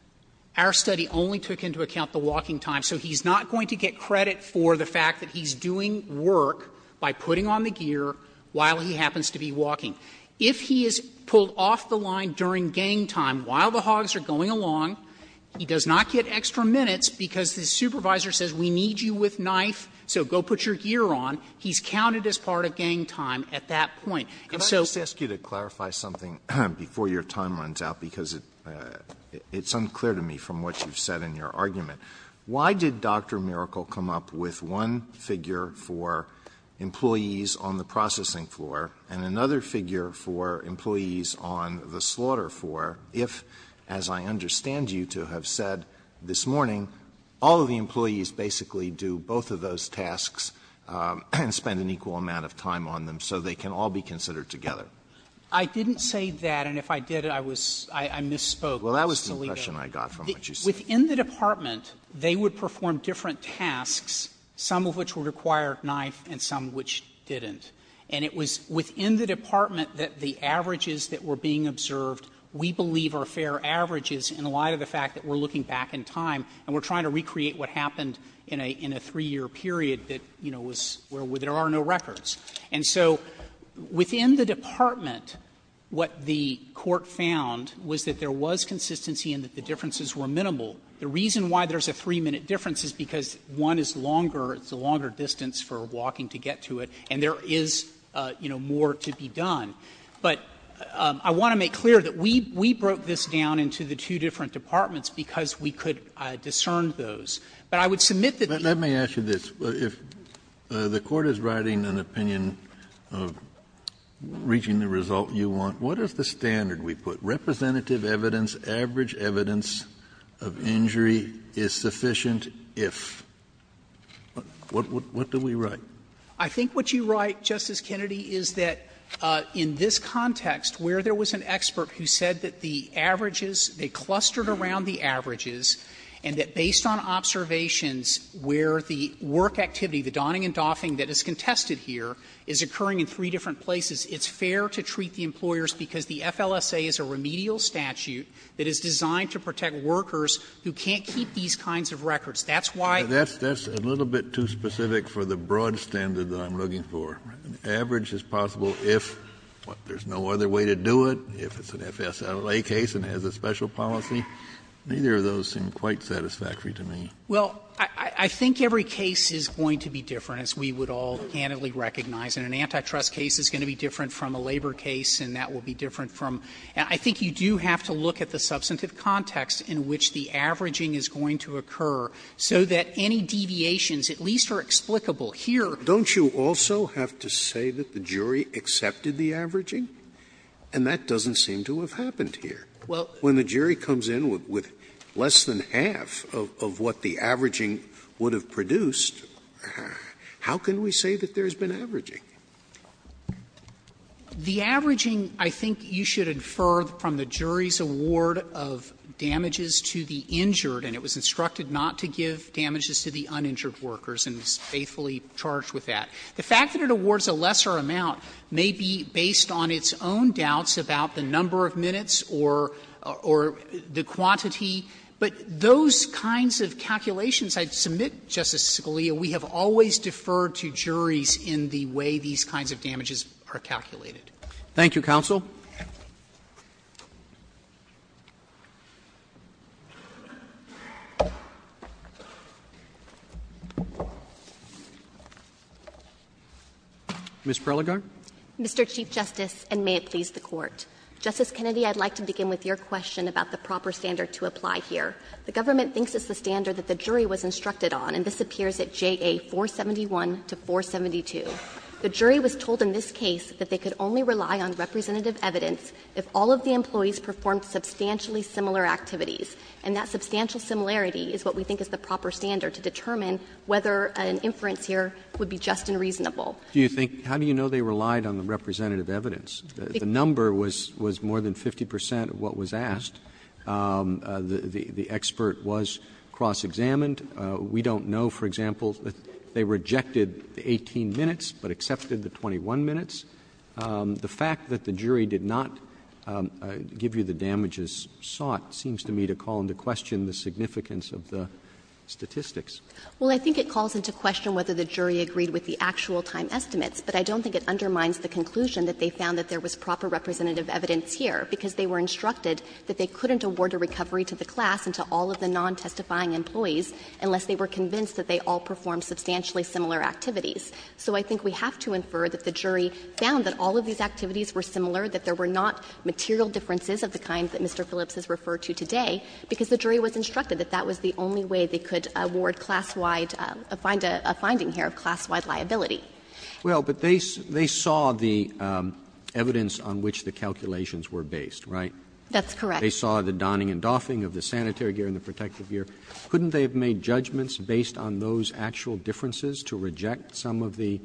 Our study only took into account the walking time. So he's not going to get credit for the fact that he's doing work by putting on the gear while he happens to be walking. If he is pulled off the line during gang time while the hogs are going along, he does not get extra minutes because the supervisor says, we need you with knife, so go put your gear on. He's counted as part of gang time at that point. And so ---- Alito, could I just ask you to clarify something before your time runs out, because it's unclear to me from what you've said in your argument. Why did Dr. Miracle come up with one figure for employees on the processing floor and another figure for employees on the slaughter floor if, as I understand you to have said this morning, all of the employees basically do both of those tasks and spend an equal amount of time on them so they can all be considered together? I didn't say that, and if I did, I was ---- I misspoke. Well, that was the impression I got from what you said. Within the department, they would perform different tasks, some of which would require knife and some of which didn't. And it was within the department that the averages that were being observed, we believe are fair averages in light of the fact that we're looking back in time and we're trying to recreate what happened in a three-year period that, you know, was where there are no records. And so within the department, what the court found was that there was consistency and that the differences were minimal. The reason why there's a 3-minute difference is because one is longer, it's a longer distance for walking to get to it, and there is, you know, more to be done. But I want to make clear that we broke this down into the two different departments because we could discern those. But I would submit that the ---- Kennedy, but let me ask you this. If the Court is writing an opinion of reaching the result you want, what is the standard we put? Representative evidence, average evidence of injury is sufficient if. What do we write? I think what you write, Justice Kennedy, is that in this context, where there was an increase in injury averages, and that based on observations where the work activity, the donning and doffing that is contested here, is occurring in three different places, it's fair to treat the employers because the FLSA is a remedial statute that is designed to protect workers who can't keep these kinds of records. That's why ---- Kennedy, that's a little bit too specific for the broad standard that I'm looking for. An average is possible if, what, there's no other way to do it, if it's an FSLA case and has a special policy? Neither of those seem quite satisfactory to me. Well, I think every case is going to be different, as we would all candidly recognize. And an antitrust case is going to be different from a labor case, and that will be different from ---- I think you do have to look at the substantive context in which the averaging is going to occur, so that any deviations at least are explicable here. And that doesn't seem to have happened here. When the jury comes in with less than half of what the averaging would have produced, how can we say that there's been averaging? The averaging, I think you should infer from the jury's award of damages to the injured, and it was instructed not to give damages to the uninjured workers, and it's faithfully charged with that. The fact that it awards a lesser amount may be based on its own doubts about the number of minutes or the quantity, but those kinds of calculations, I submit, Justice Scalia, we have always deferred to juries in the way these kinds of damages are calculated. Roberts Thank you, counsel. Ms. Prelligar. Prelligar Mr. Chief Justice, and may it please the Court. Justice Kennedy, I'd like to begin with your question about the proper standard to apply here. The government thinks it's the standard that the jury was instructed on, and this appears at JA 471 to 472. The jury was told in this case that they could only rely on representative evidence if all of the employees performed substantially similar activities, and that substantial similarity is what we think is the proper standard to determine whether an inference here would be just and reasonable. Roberts Do you think how do you know they relied on the representative evidence? The number was more than 50 percent of what was asked. The expert was cross-examined. We don't know, for example, if they rejected the 18 minutes but accepted the 21 minutes. The fact that the jury did not give you the damages sought seems to me to call into question the significance of the statistics. Prelligar Well, I think it calls into question whether the jury agreed with the actual time estimates, but I don't think it undermines the conclusion that they found that there was proper representative evidence here, because they were instructed that they couldn't award a recovery to the class and to all of the non-testifying employees unless they were convinced that they all performed substantially similar activities. So I think we have to infer that the jury found that all of these activities were similar, that there were not material differences of the kind that Mr. Phillips has referred to today, because the jury was instructed that that was the only way they could award class-wide to find a finding here of class-wide liability. Roberts Well, but they saw the evidence on which the calculations were based, right? Prelligar That's correct. Roberts They saw the donning and doffing of the sanitary gear and the protective gear. Couldn't they have made judgments based on those actual differences to reject some of the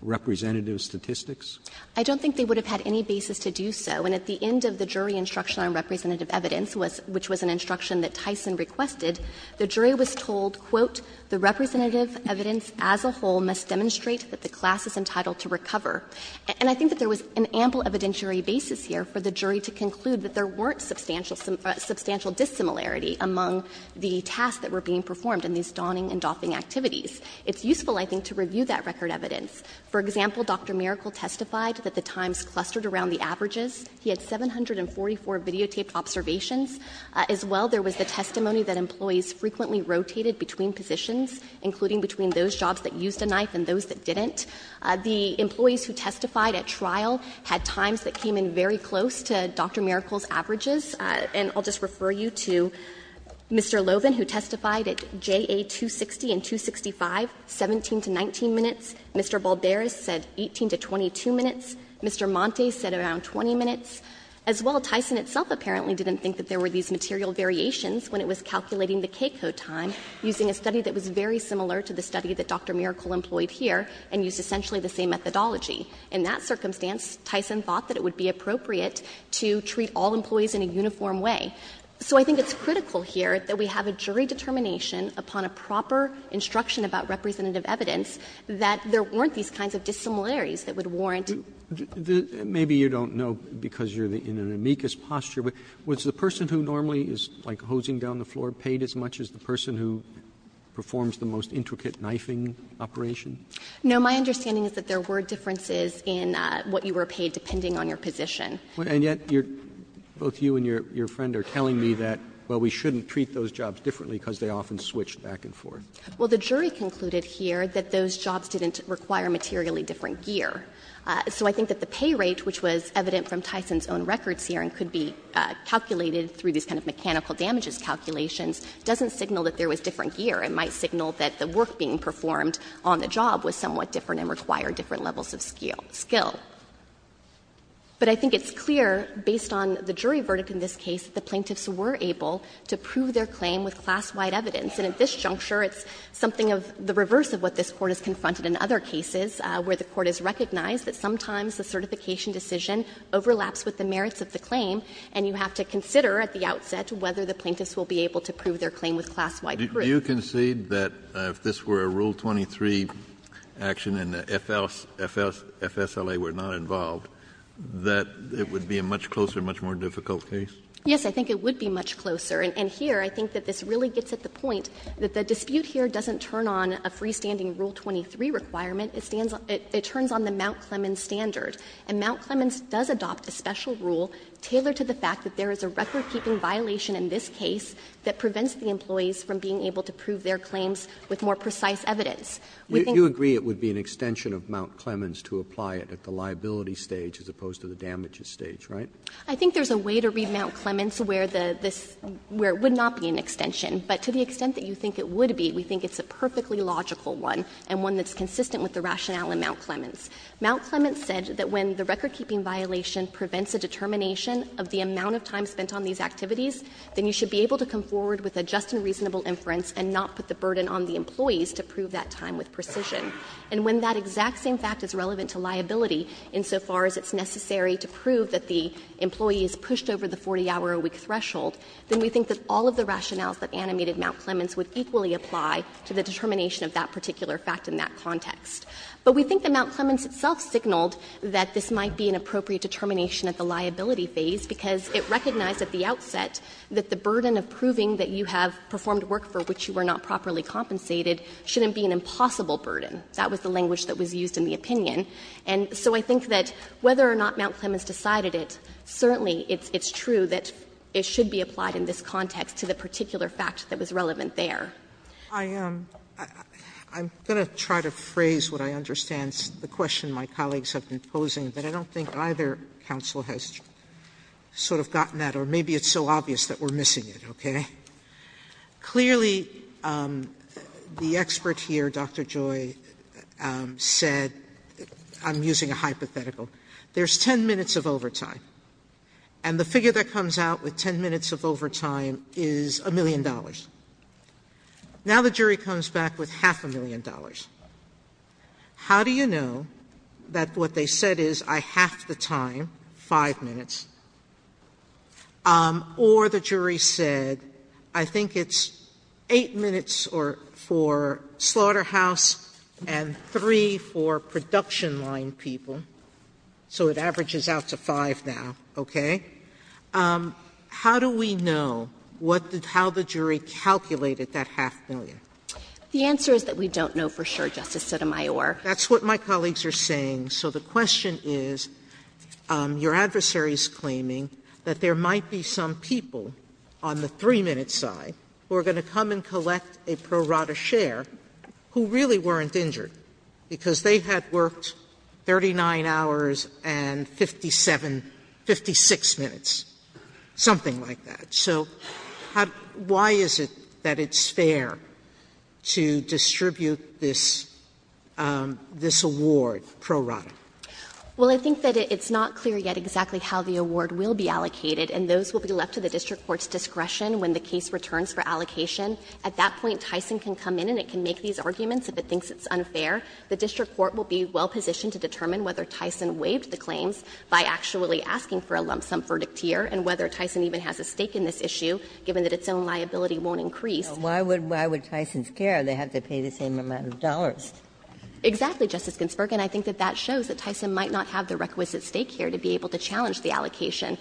representative statistics? Prelligar I don't think they would have had any basis to do so. And at the end of the jury instruction on representative evidence, which was an instruction that Tyson requested, the jury was told, quote, ''The representative evidence as a whole must demonstrate that the class is entitled to recover.'' And I think that there was an ample evidentiary basis here for the jury to conclude that there weren't substantial dissimilarity among the tasks that were being performed in these donning and doffing activities. It's useful, I think, to review that record evidence. For example, Dr. Miracle testified that the times clustered around the averages. He had 744 videotaped observations. As well, there was the testimony that employees frequently rotated between positions, including between those jobs that used a knife and those that didn't. The employees who testified at trial had times that came in very close to Dr. Miracle's averages. And I'll just refer you to Mr. Loven, who testified at JA 260 and 265, 17 to 19 minutes. Mr. Balderas said 18 to 22 minutes. Mr. Montes said around 20 minutes. As well, Tyson itself apparently didn't think that there were these material variations when it was calculating the K-code time using a study that was very similar to the study that Dr. Miracle employed here and used essentially the same methodology. In that circumstance, Tyson thought that it would be appropriate to treat all employees in a uniform way. So I think it's critical here that we have a jury determination upon a proper instruction about representative evidence that there weren't these kinds of dissimilarities that would warrant. Roberts. Maybe you don't know because you're in an amicus posture, but was the person who normally is, like, hosing down the floor paid as much as the person who performs the most intricate knifing operation? No. My understanding is that there were differences in what you were paid, depending on your position. And yet, you're – both you and your friend are telling me that, well, we shouldn't treat those jobs differently because they often switch back and forth. Well, the jury concluded here that those jobs didn't require materially different gear. So I think that the pay rate, which was evident from Tyson's own records here and could be calculated through these kind of mechanical damages calculations, doesn't signal that there was different gear. It might signal that the work being performed on the job was somewhat different and required different levels of skill. But I think it's clear, based on the jury verdict in this case, that the plaintiffs were able to prove their claim with class-wide evidence. And at this juncture, it's something of the reverse of what this Court has confronted in other cases, where the Court has recognized that sometimes the certification decision overlaps with the merits of the claim, and you have to consider at the outset Do you concede that if this were a Rule 23 action and the FSLA were not involved, that it would be a much closer, much more difficult case? Yes, I think it would be much closer. And here, I think that this really gets at the point that the dispute here doesn't turn on a freestanding Rule 23 requirement. It turns on the Mount Clemens standard. And Mount Clemens does adopt a special rule tailored to the fact that there is a record-keeping violation in this case that prevents the employees from being able to prove their claims with more precise evidence. We think You agree it would be an extension of Mount Clemens to apply it at the liability stage as opposed to the damages stage, right? I think there's a way to read Mount Clemens where the this, where it would not be an extension. But to the extent that you think it would be, we think it's a perfectly logical one, and one that's consistent with the rationale in Mount Clemens. Mount Clemens said that when the record-keeping violation prevents a determination of the amount of time spent on these activities, then you should be able to come forward with a just and reasonable inference and not put the burden on the employees to prove that time with precision. And when that exact same fact is relevant to liability, insofar as it's necessary to prove that the employee is pushed over the 40-hour-a-week threshold, then we think that all of the rationales that animated Mount Clemens would equally apply to the determination of that particular fact in that context. But we think that Mount Clemens itself signaled that this might be an appropriate determination at the liability phase, because it recognized at the outset that the burden of proving that you have performed work for which you were not properly compensated shouldn't be an impossible burden. That was the language that was used in the opinion. And so I think that whether or not Mount Clemens decided it, certainly it's true that it should be applied in this context to the particular fact that was relevant there. Sotomayor, I'm going to try to phrase what I understand the question my colleagues have been posing, but I don't think either counsel has sort of gotten that, or maybe it's so obvious that we're missing it, okay? Clearly, the expert here, Dr. Joy, said, I'm using a hypothetical, there's 10 minutes of overtime, and the figure that comes out with 10 minutes of overtime is $1 million. Now the jury comes back with half a million dollars. How do you know that what they said is, I half the time, 5 minutes, or the jury said, I think it's 8 minutes for slaughterhouse and 3 for production line people, so it averages out to 5 now, okay? How do we know how the jury calculated that half a million? The answer is that we don't know for sure, Justice Sotomayor. Sotomayor, that's what my colleagues are saying. So the question is, your adversary is claiming that there might be some people on the 3-minute side who are going to come and collect a pro rata share who really weren't injured, because they had worked 39 hours and 57, 56 minutes, something like that. So why is it that it's fair to distribute this award pro rata? Well, I think that it's not clear yet exactly how the award will be allocated, and those will be left to the district court's discretion when the case returns for allocation. At that point, Tyson can come in and it can make these arguments if it thinks it's unfair. The district court will be well positioned to determine whether Tyson waived the claims by actually asking for a lump sum verdict here, and whether Tyson even has a stake in this issue, given that its own liability won't increase. Why would Tyson's care? They have to pay the same amount of dollars. Exactly, Justice Ginsburg, and I think that that shows that Tyson might not have the requisite stake here to be able to challenge the allocation.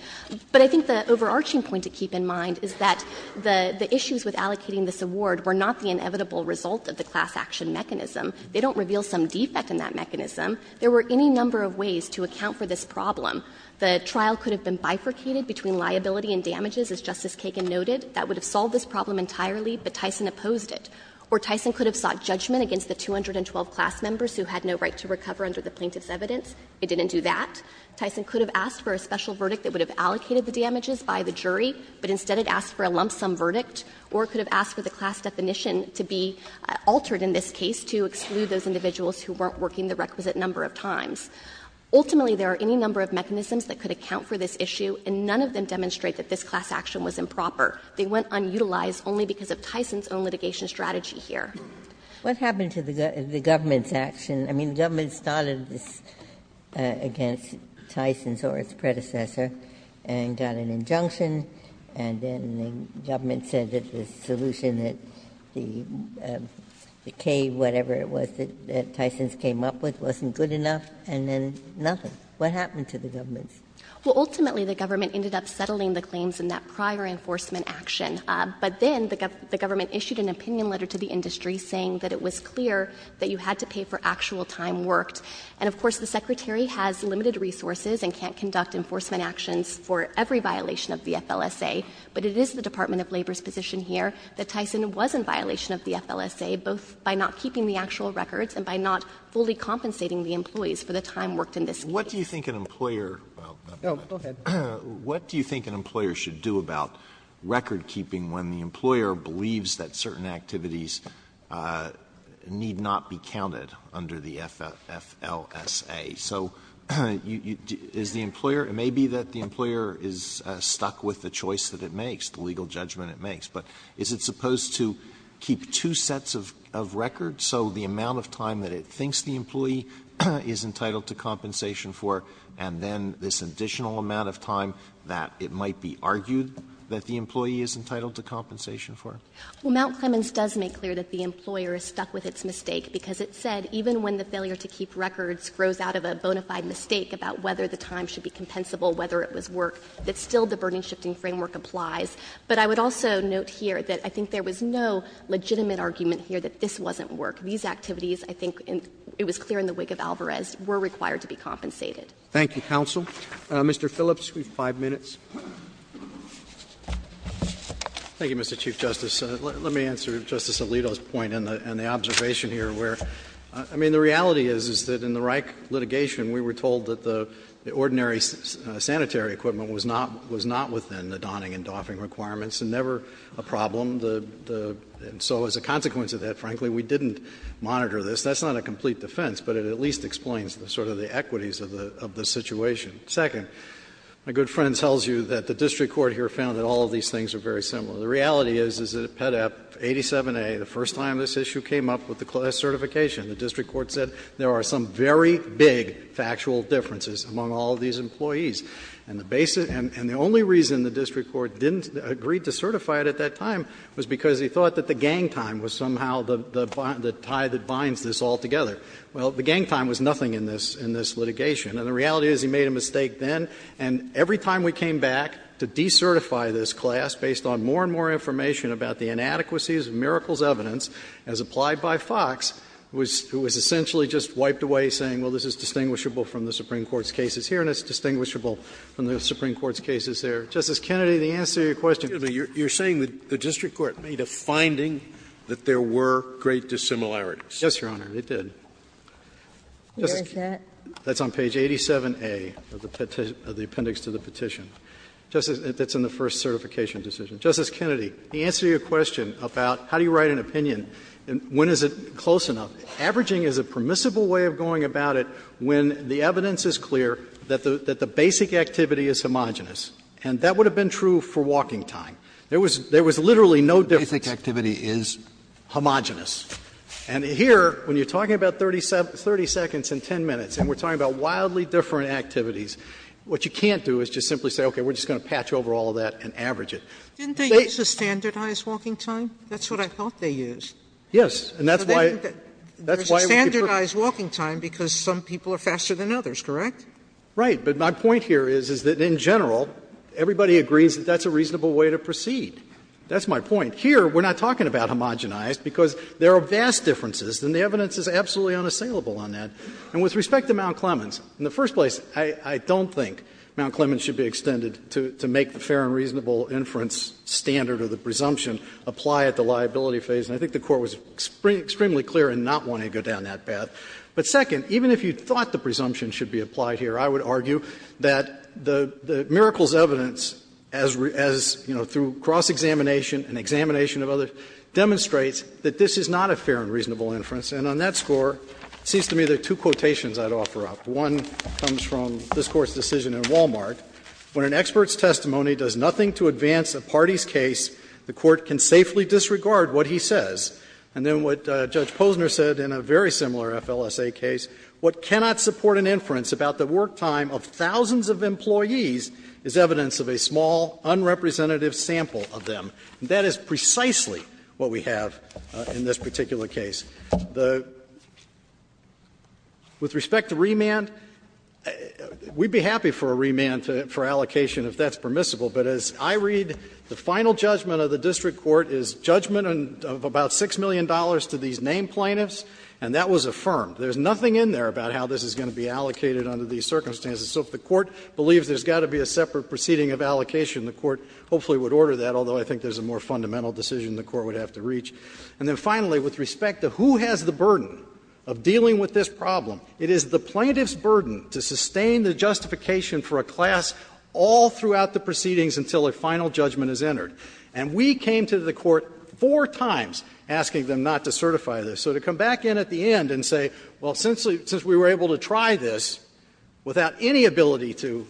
But I think the overarching point to keep in mind is that the issues with allocating this award were not the inevitable result of the class action mechanism. They don't reveal some defect in that mechanism. There were any number of ways to account for this problem. The trial could have been bifurcated between liability and damages, as Justice Kagan noted. That would have solved this problem entirely, but Tyson opposed it. Or Tyson could have sought judgment against the 212 class members who had no right to recover under the plaintiff's evidence. It didn't do that. Tyson could have asked for a special verdict that would have allocated the damages by the jury, but instead it asked for a lump sum verdict. Or it could have asked for the class definition to be altered in this case to exclude those individuals who weren't working the requisite number of times. Ultimately, there are any number of mechanisms that could account for this issue, and none of them demonstrate that this class action was improper. They went unutilized only because of Tyson's own litigation strategy here. Ginsburg. What happened to the government's action? I mean, the government started this against Tyson or its predecessor and got an injunction, and then the government said that the solution that the cave, whatever it was, that it was clear that you had to pay for actual time worked, and, of course, the Secretary has limited resources and can't conduct enforcement actions for every violation of the FLSA, but it is the Department of Labor's position here that Tyson was in violation of the FLSA, both by not keeping the actual records and by not fully compensating What do you think an employer should do about record-keeping when the employer believes that certain activities need not be counted under the FLSA? So is the employer, it may be that the employer is stuck with the choice that it makes, the legal judgment it makes, but is it supposed to keep two sets of records so the amount of time that it thinks the employee is entitled to compensation for and then this additional amount of time that it might be argued that the employee is entitled to compensation for? Well, Mount Clemens does make clear that the employer is stuck with its mistake, because it said even when the failure to keep records grows out of a bona fide mistake about whether the time should be compensable, whether it was work, that still the burden-shifting framework applies. But I would also note here that I think there was no legitimate argument here that this wasn't work. These activities, I think it was clear in the wake of Alvarez, were required to be compensated. Thank you, counsel. Mr. Phillips, you have five minutes. Thank you, Mr. Chief Justice. Let me answer Justice Alito's point and the observation here where, I mean, the reality is, is that in the Reich litigation we were told that the ordinary sanitary equipment was not within the donning and doffing requirements and never a problem. And so as a consequence of that, frankly, we didn't monitor this. That's not a complete defense, but it at least explains the sort of the equities of the situation. Second, my good friend tells you that the district court here found that all of these things are very similar. The reality is, is that at PEDAP 87A, the first time this issue came up with the certification, the district court said there are some very big factual differences among all of these employees. And the only reason the district court didn't agree to certify it at that time was because he thought that the gang time was somehow the tie that binds this all together. Well, the gang time was nothing in this litigation. And the reality is he made a mistake then, and every time we came back to decertify this class based on more and more information about the inadequacies of miracles evidence as applied by Fox, it was essentially just wiped away saying, well, this is distinguishable from the Supreme Court's cases here and it's distinguishable from the Supreme Court's cases there. Justice Kennedy, the answer to your question. Scalia, you're saying that the district court made a finding that there were great dissimilarities. Yes, Your Honor, it did. Where is that? That's on page 87A of the appendix to the petition, that's in the first certification decision. Justice Kennedy, the answer to your question about how do you write an opinion and when is it close enough, averaging is a permissible way of going about it when the evidence is clear that the basic activity is homogenous. And that would have been true for walking time. There was literally no difference. Basic activity is homogenous. And here, when you're talking about 30 seconds and 10 minutes and we're talking about wildly different activities, what you can't do is just simply say, okay, we're just going to patch over all of that and average it. Didn't they use a standardized walking time? That's what I thought they used. Yes, and that's why we could put it. There's a standardized walking time because some people are faster than others, correct? Right, but my point here is, is that in general everybody agrees that that's a reasonable way to proceed. That's my point. Here, we're not talking about homogenized because there are vast differences and the evidence is absolutely unassailable on that. And with respect to Mount Clemens, in the first place, I don't think Mount Clemens should be extended to make the fair and reasonable inference standard or the presumption apply at the liability phase. And I think the Court was extremely clear in not wanting to go down that path. But second, even if you thought the presumption should be applied here, I would argue that the miracles evidence as, you know, through cross-examination and examination of others, demonstrates that this is not a fair and reasonable inference. And on that score, it seems to me there are two quotations I'd offer up. One comes from this Court's decision in Wal-Mart. When an expert's testimony does nothing to advance a party's case, the Court can safely disregard what he says. And then what Judge Posner said in a very similar FLSA case, what cannot support an inference about the work time of thousands of employees is evidence of a small, unrepresentative sample of them. And that is precisely what we have in this particular case. The – with respect to remand, we'd be happy for a remand for allocation if that's permissible, but as I read, the final judgment of the district court is judgment of about $6 million to these named plaintiffs, and that was affirmed. There's nothing in there about how this is going to be allocated under these circumstances. So if the Court believes there's got to be a separate proceeding of allocation, the Court hopefully would order that, although I think there's a more fundamental decision the Court would have to reach. And then finally, with respect to who has the burden of dealing with this problem, it is the plaintiff's burden to sustain the justification for a class all throughout the proceedings until a final judgment is entered. And we came to the Court four times asking them not to certify this. So to come back in at the end and say, well, since we were able to try this without any ability to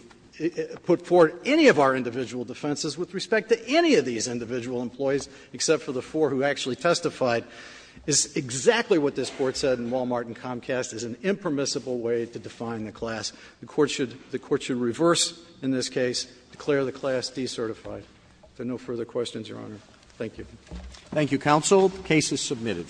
put forward any of our individual defenses with respect to any of these individual employees except for the four who actually testified, is exactly what this Court said in Walmart and Comcast is an impermissible way to define the class. The Court should reverse in this case, declare the class decertified. If there are no further questions, Your Honor, thank you. Thank you, counsel. Case is submitted.